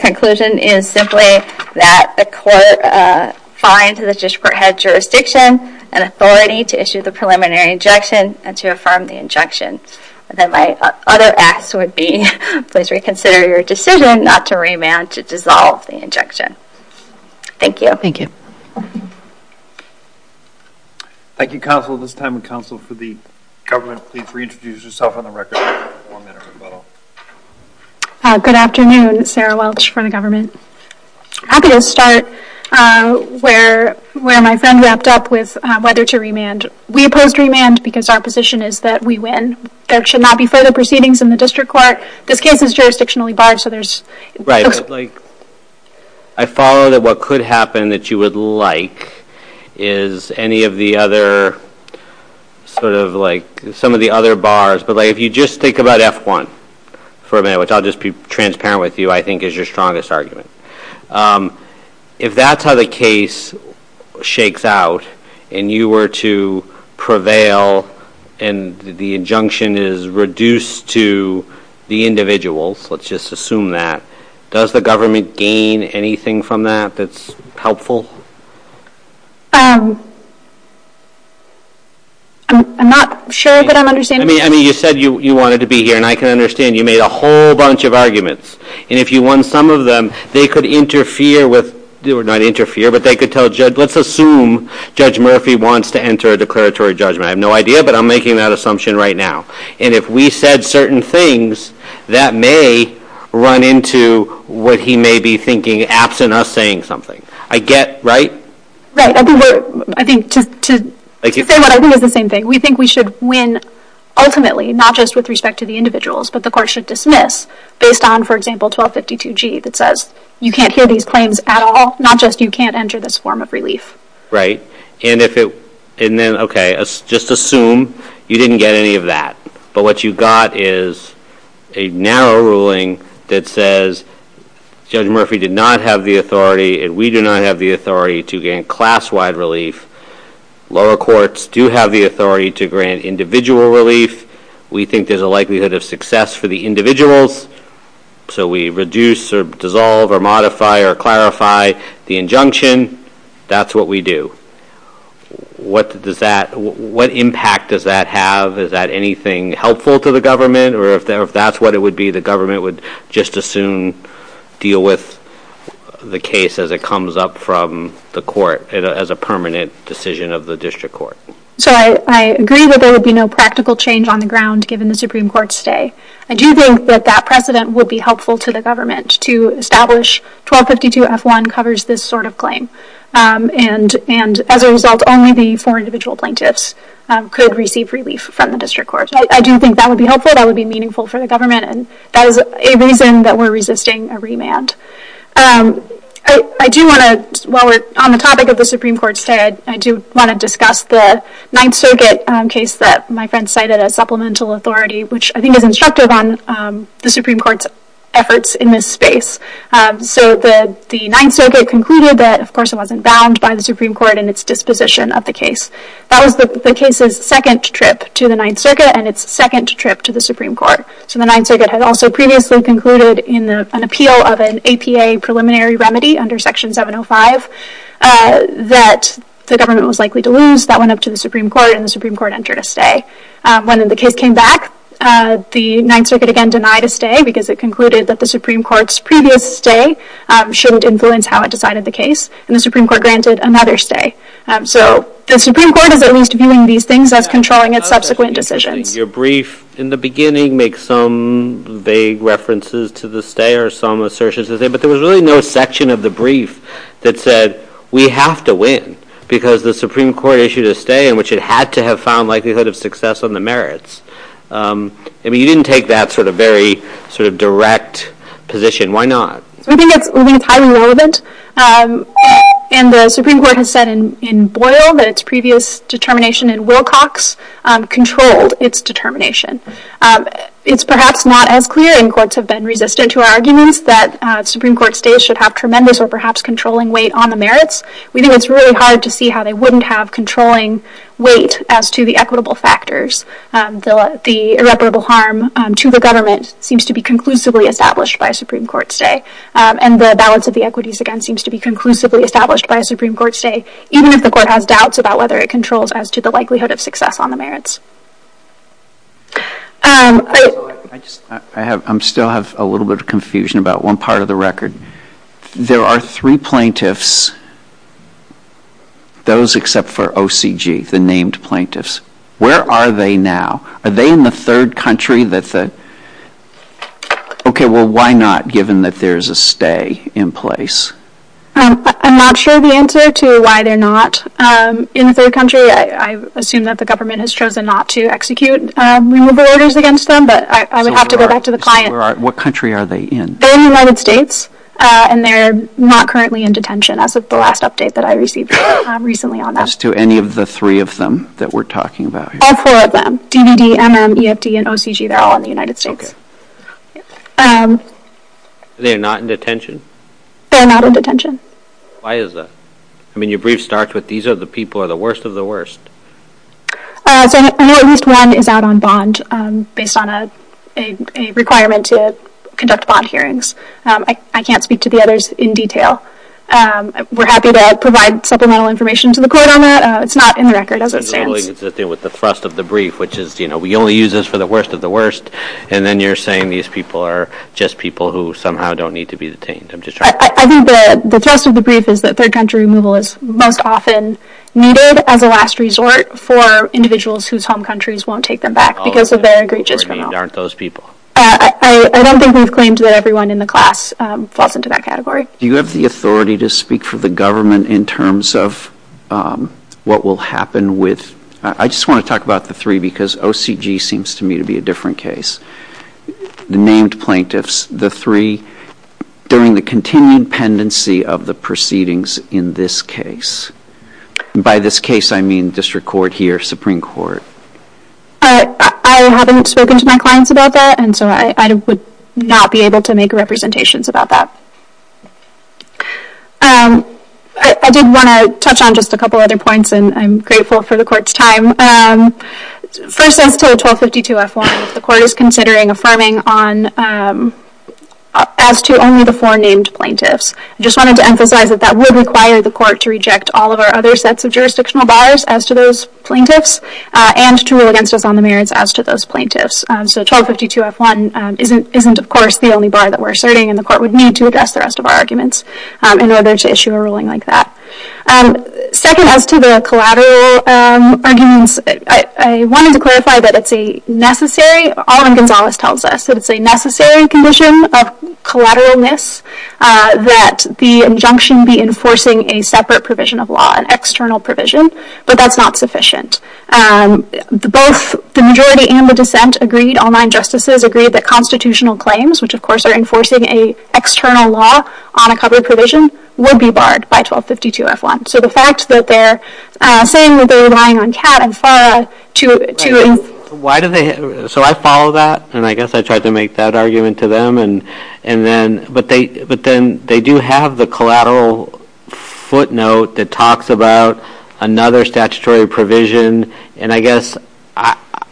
conclusion is simply that the court finds the district head's jurisdiction an authority to issue the preliminary injunction and to affirm the injunction. And then my other ask would be, please reconsider your decision not to remand to dissolve the injunction. Thank you. Thank you. Thank you, counsel, this time the counsel for the government. Please reintroduce yourself on the record. Good afternoon. Sarah Welch for the government. I'm going to start where my friend wrapped up with whether to remand. We oppose remand because our position is that we win. There should not be further proceedings in the district court. This case is jurisdictionally barred, so there's... I follow that what could happen that you would like is any of the other sort of like some of the other bars, but if you just think about F1 for a minute, which I'll just be transparent with you, I think is your strongest argument. If that's how the case shakes out and you were to prevail and the injunction is reduced to the individuals, let's just assume that, does the government gain anything from that that's helpful? I'm not sure that I'm understanding... I mean, you said you wanted to be here, and I can understand you made a whole bunch of arguments. And if you won some of them, they could interfere with... Well, not interfere, but they could tell judge... Let's assume Judge Murphy wants to enter a declaratory judgment. I have no idea, but I'm making that assumption right now. And if we said certain things, that may run into what he may be thinking absent us saying something. I get, right? Right. I think to say what I think is the same thing. We think we should win ultimately, not just with respect to the individuals, but the court should dismiss based on, for example, 1252G that says, you can't hear these claims at all, not just you can't enter this form of relief. Right. And if it... And then, okay, let's just assume you didn't get any of that. But what you got is a narrow ruling that says Judge Murphy did not have the authority, and we do not have the authority to gain class-wide relief. Lower courts do have the authority to grant individual relief. We think there's a likelihood of success for the individuals. So we reduce or dissolve or modify or clarify the injunction. That's what we do. What impact does that have? Is that anything helpful to the government? Or if that's what it would be, the government would just as soon deal with the case as it comes up from the court as a permanent decision of the district court. So I agree that there would be no practical change on the ground given the Supreme Court's say. I do think that that precedent would be helpful to the government to establish 1252F1 covers this sort of claim. And as a result, only the four individual plaintiffs could receive relief from the district court. So I do think that would be helpful. That would be meaningful for the government. And that is a reason that we're resisting a remand. I do want to, while we're on the topic of the Supreme Court's say, I do want to discuss the Ninth Circuit case that my friend cited as supplemental authority, which I think is instructive on the Supreme Court's efforts in this space. So the Ninth Circuit concluded that, of course, it wasn't bound by the Supreme Court in its disposition of the case. That was the case's second trip to the Ninth Circuit and its second trip to the Supreme Court. So the Ninth Circuit had also previously concluded in an appeal of an APA preliminary remedy under Section 705 that the government was likely to lose. That went up to the Supreme Court, and the Supreme Court entered a say. When the case came back, the Ninth Circuit again denied a say because it concluded that the Supreme Court's previous say shouldn't influence how it decided the case, and the Supreme Court granted another say. So the Supreme Court is at least viewing these things as controlling its subsequent decisions. Your brief in the beginning makes some vague references to the say or some assertions to the say, but there was really no section of the brief that said we have to win because the Supreme Court issued a say in which it had to have found likelihood of success on the merits. I mean, you didn't take that sort of very sort of direct position. Why not? I think it's highly relevant, and the Supreme Court has said in Boyle that its previous determination in Wilcox controlled its determination. It's perhaps not as clear, and courts have been resistant to our arguments, that Supreme Court stays should have tremendous or perhaps controlling weight on the merits. We know it's really hard to see how they wouldn't have controlling weight as to the equitable factors. The irreparable harm to the government seems to be conclusively established by a Supreme Court say, and the balance of the equities again seems to be conclusively established by a Supreme Court say, even if the court has doubts about whether it controls as to the likelihood of success on the merits. I still have a little bit of confusion about one part of the record. There are three plaintiffs, those except for OCG, the named plaintiffs. Where are they now? Are they in the third country? Okay, well, why not given that there's a stay in place? I'm not sure the answer to why they're not in the third country. I assume that the government has chosen not to execute removal orders against them, but I would have to go back to the client. What country are they in? They're in the United States, and they're not currently in detention. That's the last update that I received recently on that. As to any of the three of them that we're talking about here? All four of them, DVD, MM, EFD, and OCG, they're all in the United States. They're not in detention? They're not in detention. Why is that? I mean, your brief starts with, these are the people who are the worst of the worst. I know at least one is out on bond based on a requirement to conduct bond hearings. I can't speak to the others in detail. We're happy to provide supplemental information to the court on that. It's not in the record, as it stands. It has to do with the thrust of the brief, which is, you know, we only use this for the worst of the worst, and then you're saying these people are just people who somehow don't need to be detained. I think the thrust of the brief is that third country removal is most often needed as a last resort for individuals whose home countries won't take them back because of their egregious conduct. I don't think we've claimed that everyone in the class falls into that category. Do you have the authority to speak for the government in terms of what will happen with, I just want to talk about the three because OCG seems to me to be a different case. The named plaintiffs, the three, during the continued pendency of the proceedings in this case. By this case, I mean district court here, Supreme Court. I haven't spoken to my clients about that, and so I would not be able to make representations about that. I did want to touch on just a couple of other points, and I'm grateful for the court's time. First, as to the 1252-F1, the court is considering affirming as to only the four named plaintiffs. I just wanted to emphasize that that would require the court to reject all of our other sets of jurisdictional bars as to those plaintiffs and to rule against them on the merits as to those plaintiffs. So 1252-F1 isn't, of course, the only bar that we're starting, and the court would need to address the rest of our arguments in order to issue a ruling like that. Second, as to the collateral arguments, I wanted to clarify that it's a necessary, all of Gonzalez tells us that it's a necessary condition of collateralness that the injunction be enforcing a separate provision of law, an external provision, but that's not sufficient. Both the majority and the dissent agreed, all nine justices agreed, that constitutional claims, which, of course, are enforcing an external law on a covered provision, would be barred by 1252-F1. So the fact that they're saying that they're relying on Kat and Farah to... So I follow that, and I guess I tried to make that argument to them, but then they do have the collateral footnote that talks about another statutory provision, and I guess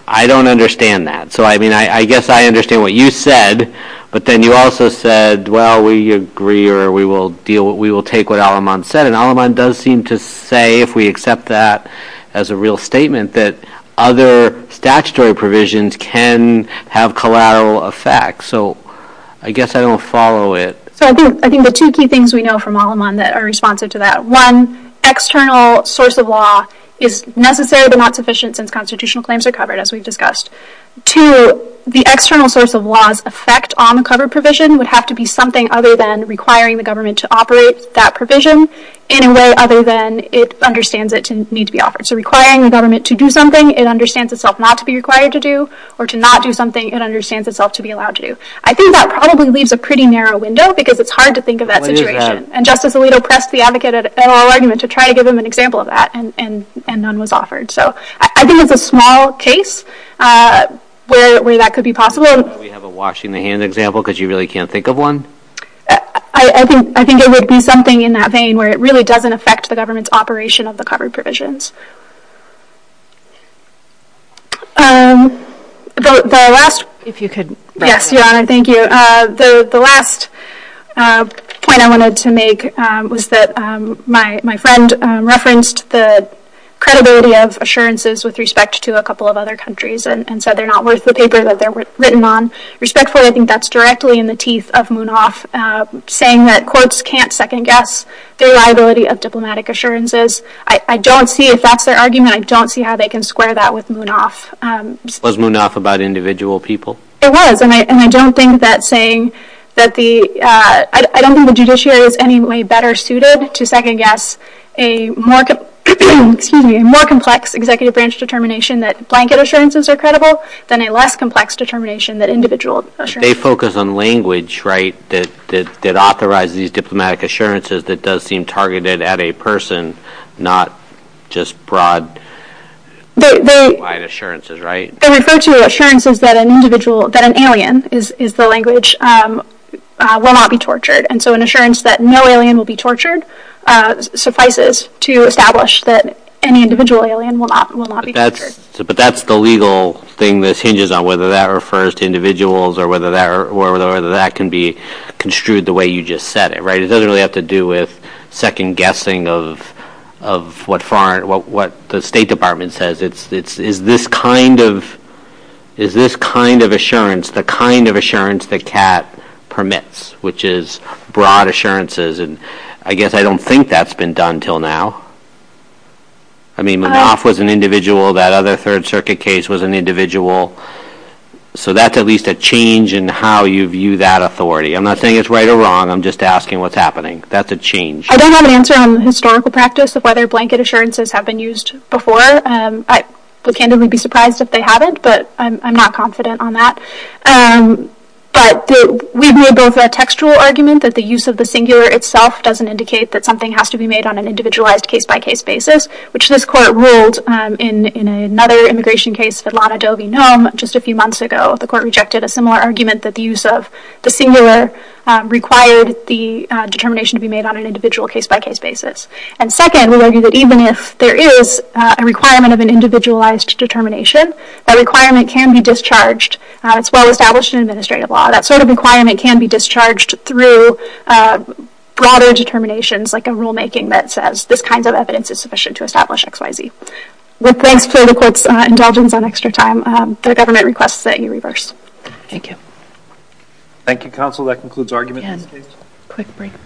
I don't understand that. So I mean, I guess I understand what you said, but then you also said, well, we agree, or we will take what Al-Aman said, and Al-Aman does seem to say, if we accept that as a real statement, that other statutory provisions can have collateral effects. So I guess I don't follow it. So I think the two key things we know from Al-Aman that are responsive to that, one, external source of law is necessary but not sufficient since constitutional claims are covered, as we've discussed. Two, the external source of law's effect on the covered provision would have to be something other than requiring the government to operate that provision in a way other than it understands it needs to be offered. So requiring the government to do something, it understands itself not to be required to do, or to not do something, it understands itself to be allowed to do. I think that probably leaves a pretty narrow window because it's hard to think of that situation, and Justice Alito pressed the advocate at oral argument to try to give him an example of that, and none was offered. So I think it's a small case where that could be possible. Do we have a washing the hand example because you really can't think of one? I think there would be something in that vein where it really doesn't affect the government's operation of the covered provisions. The last point I wanted to make was that my friend referenced the credibility of assurances with respect to a couple of other countries, and so they're not worth the paper that they're written on. Respectfully, I think that's directly in the teeth of Munaf, saying that courts can't second-guess the reliability of diplomatic assurances. I don't see, if that's their argument, I don't see how they can square that with Munaf. Was Munaf about individual people? It was, and I don't think that saying that the – I don't think the judiciary is any way better suited to second-guess a more complex executive branch determination that blanket assurances are credible than a less complex determination that individual assurances are credible. They focus on language, right, that authorizes diplomatic assurances that does seem targeted at a person, not just broad, wide assurances, right? They refer to assurances that an alien is the language, will not be tortured. And so an assurance that no alien will be tortured suffices to establish that any individual alien will not be tortured. But that's the legal thing that hinges on whether that refers to individuals or whether that can be construed the way you just said it, right? It doesn't really have to do with second-guessing of what the State Department says. It's this kind of assurance, the kind of assurance that CAT permits, which is broad assurances. And I guess I don't think that's been done until now. I mean, Munaf was an individual. That other Third Circuit case was an individual. So that's at least a change in how you view that authority. I'm not saying it's right or wrong. I'm just asking what's happening. That's a change. I don't have an answer on the historical practice of whether blanket assurances have been used before. The candidate would be surprised if they hadn't, but I'm not confident on that. But we view it as a textual argument that the use of the singular itself doesn't indicate that something has to be made on an individualized case-by-case basis, which this court ruled in another immigration case, the Lana Dovey-Nome, just a few months ago. The court rejected a similar argument that the use of the singular required the determination to be made on an individual case-by-case basis. And second, we argue that even if there is a requirement of an individualized determination, that requirement can be discharged. It's well-established in administrative law. That sort of requirement can be discharged through broader determinations, like a rulemaking that says this kind of evidence is sufficient to establish XYZ. With thanks to the court's indulgence on extra time, the government requests that you reverse. Thank you. Thank you, counsel. That concludes arguments.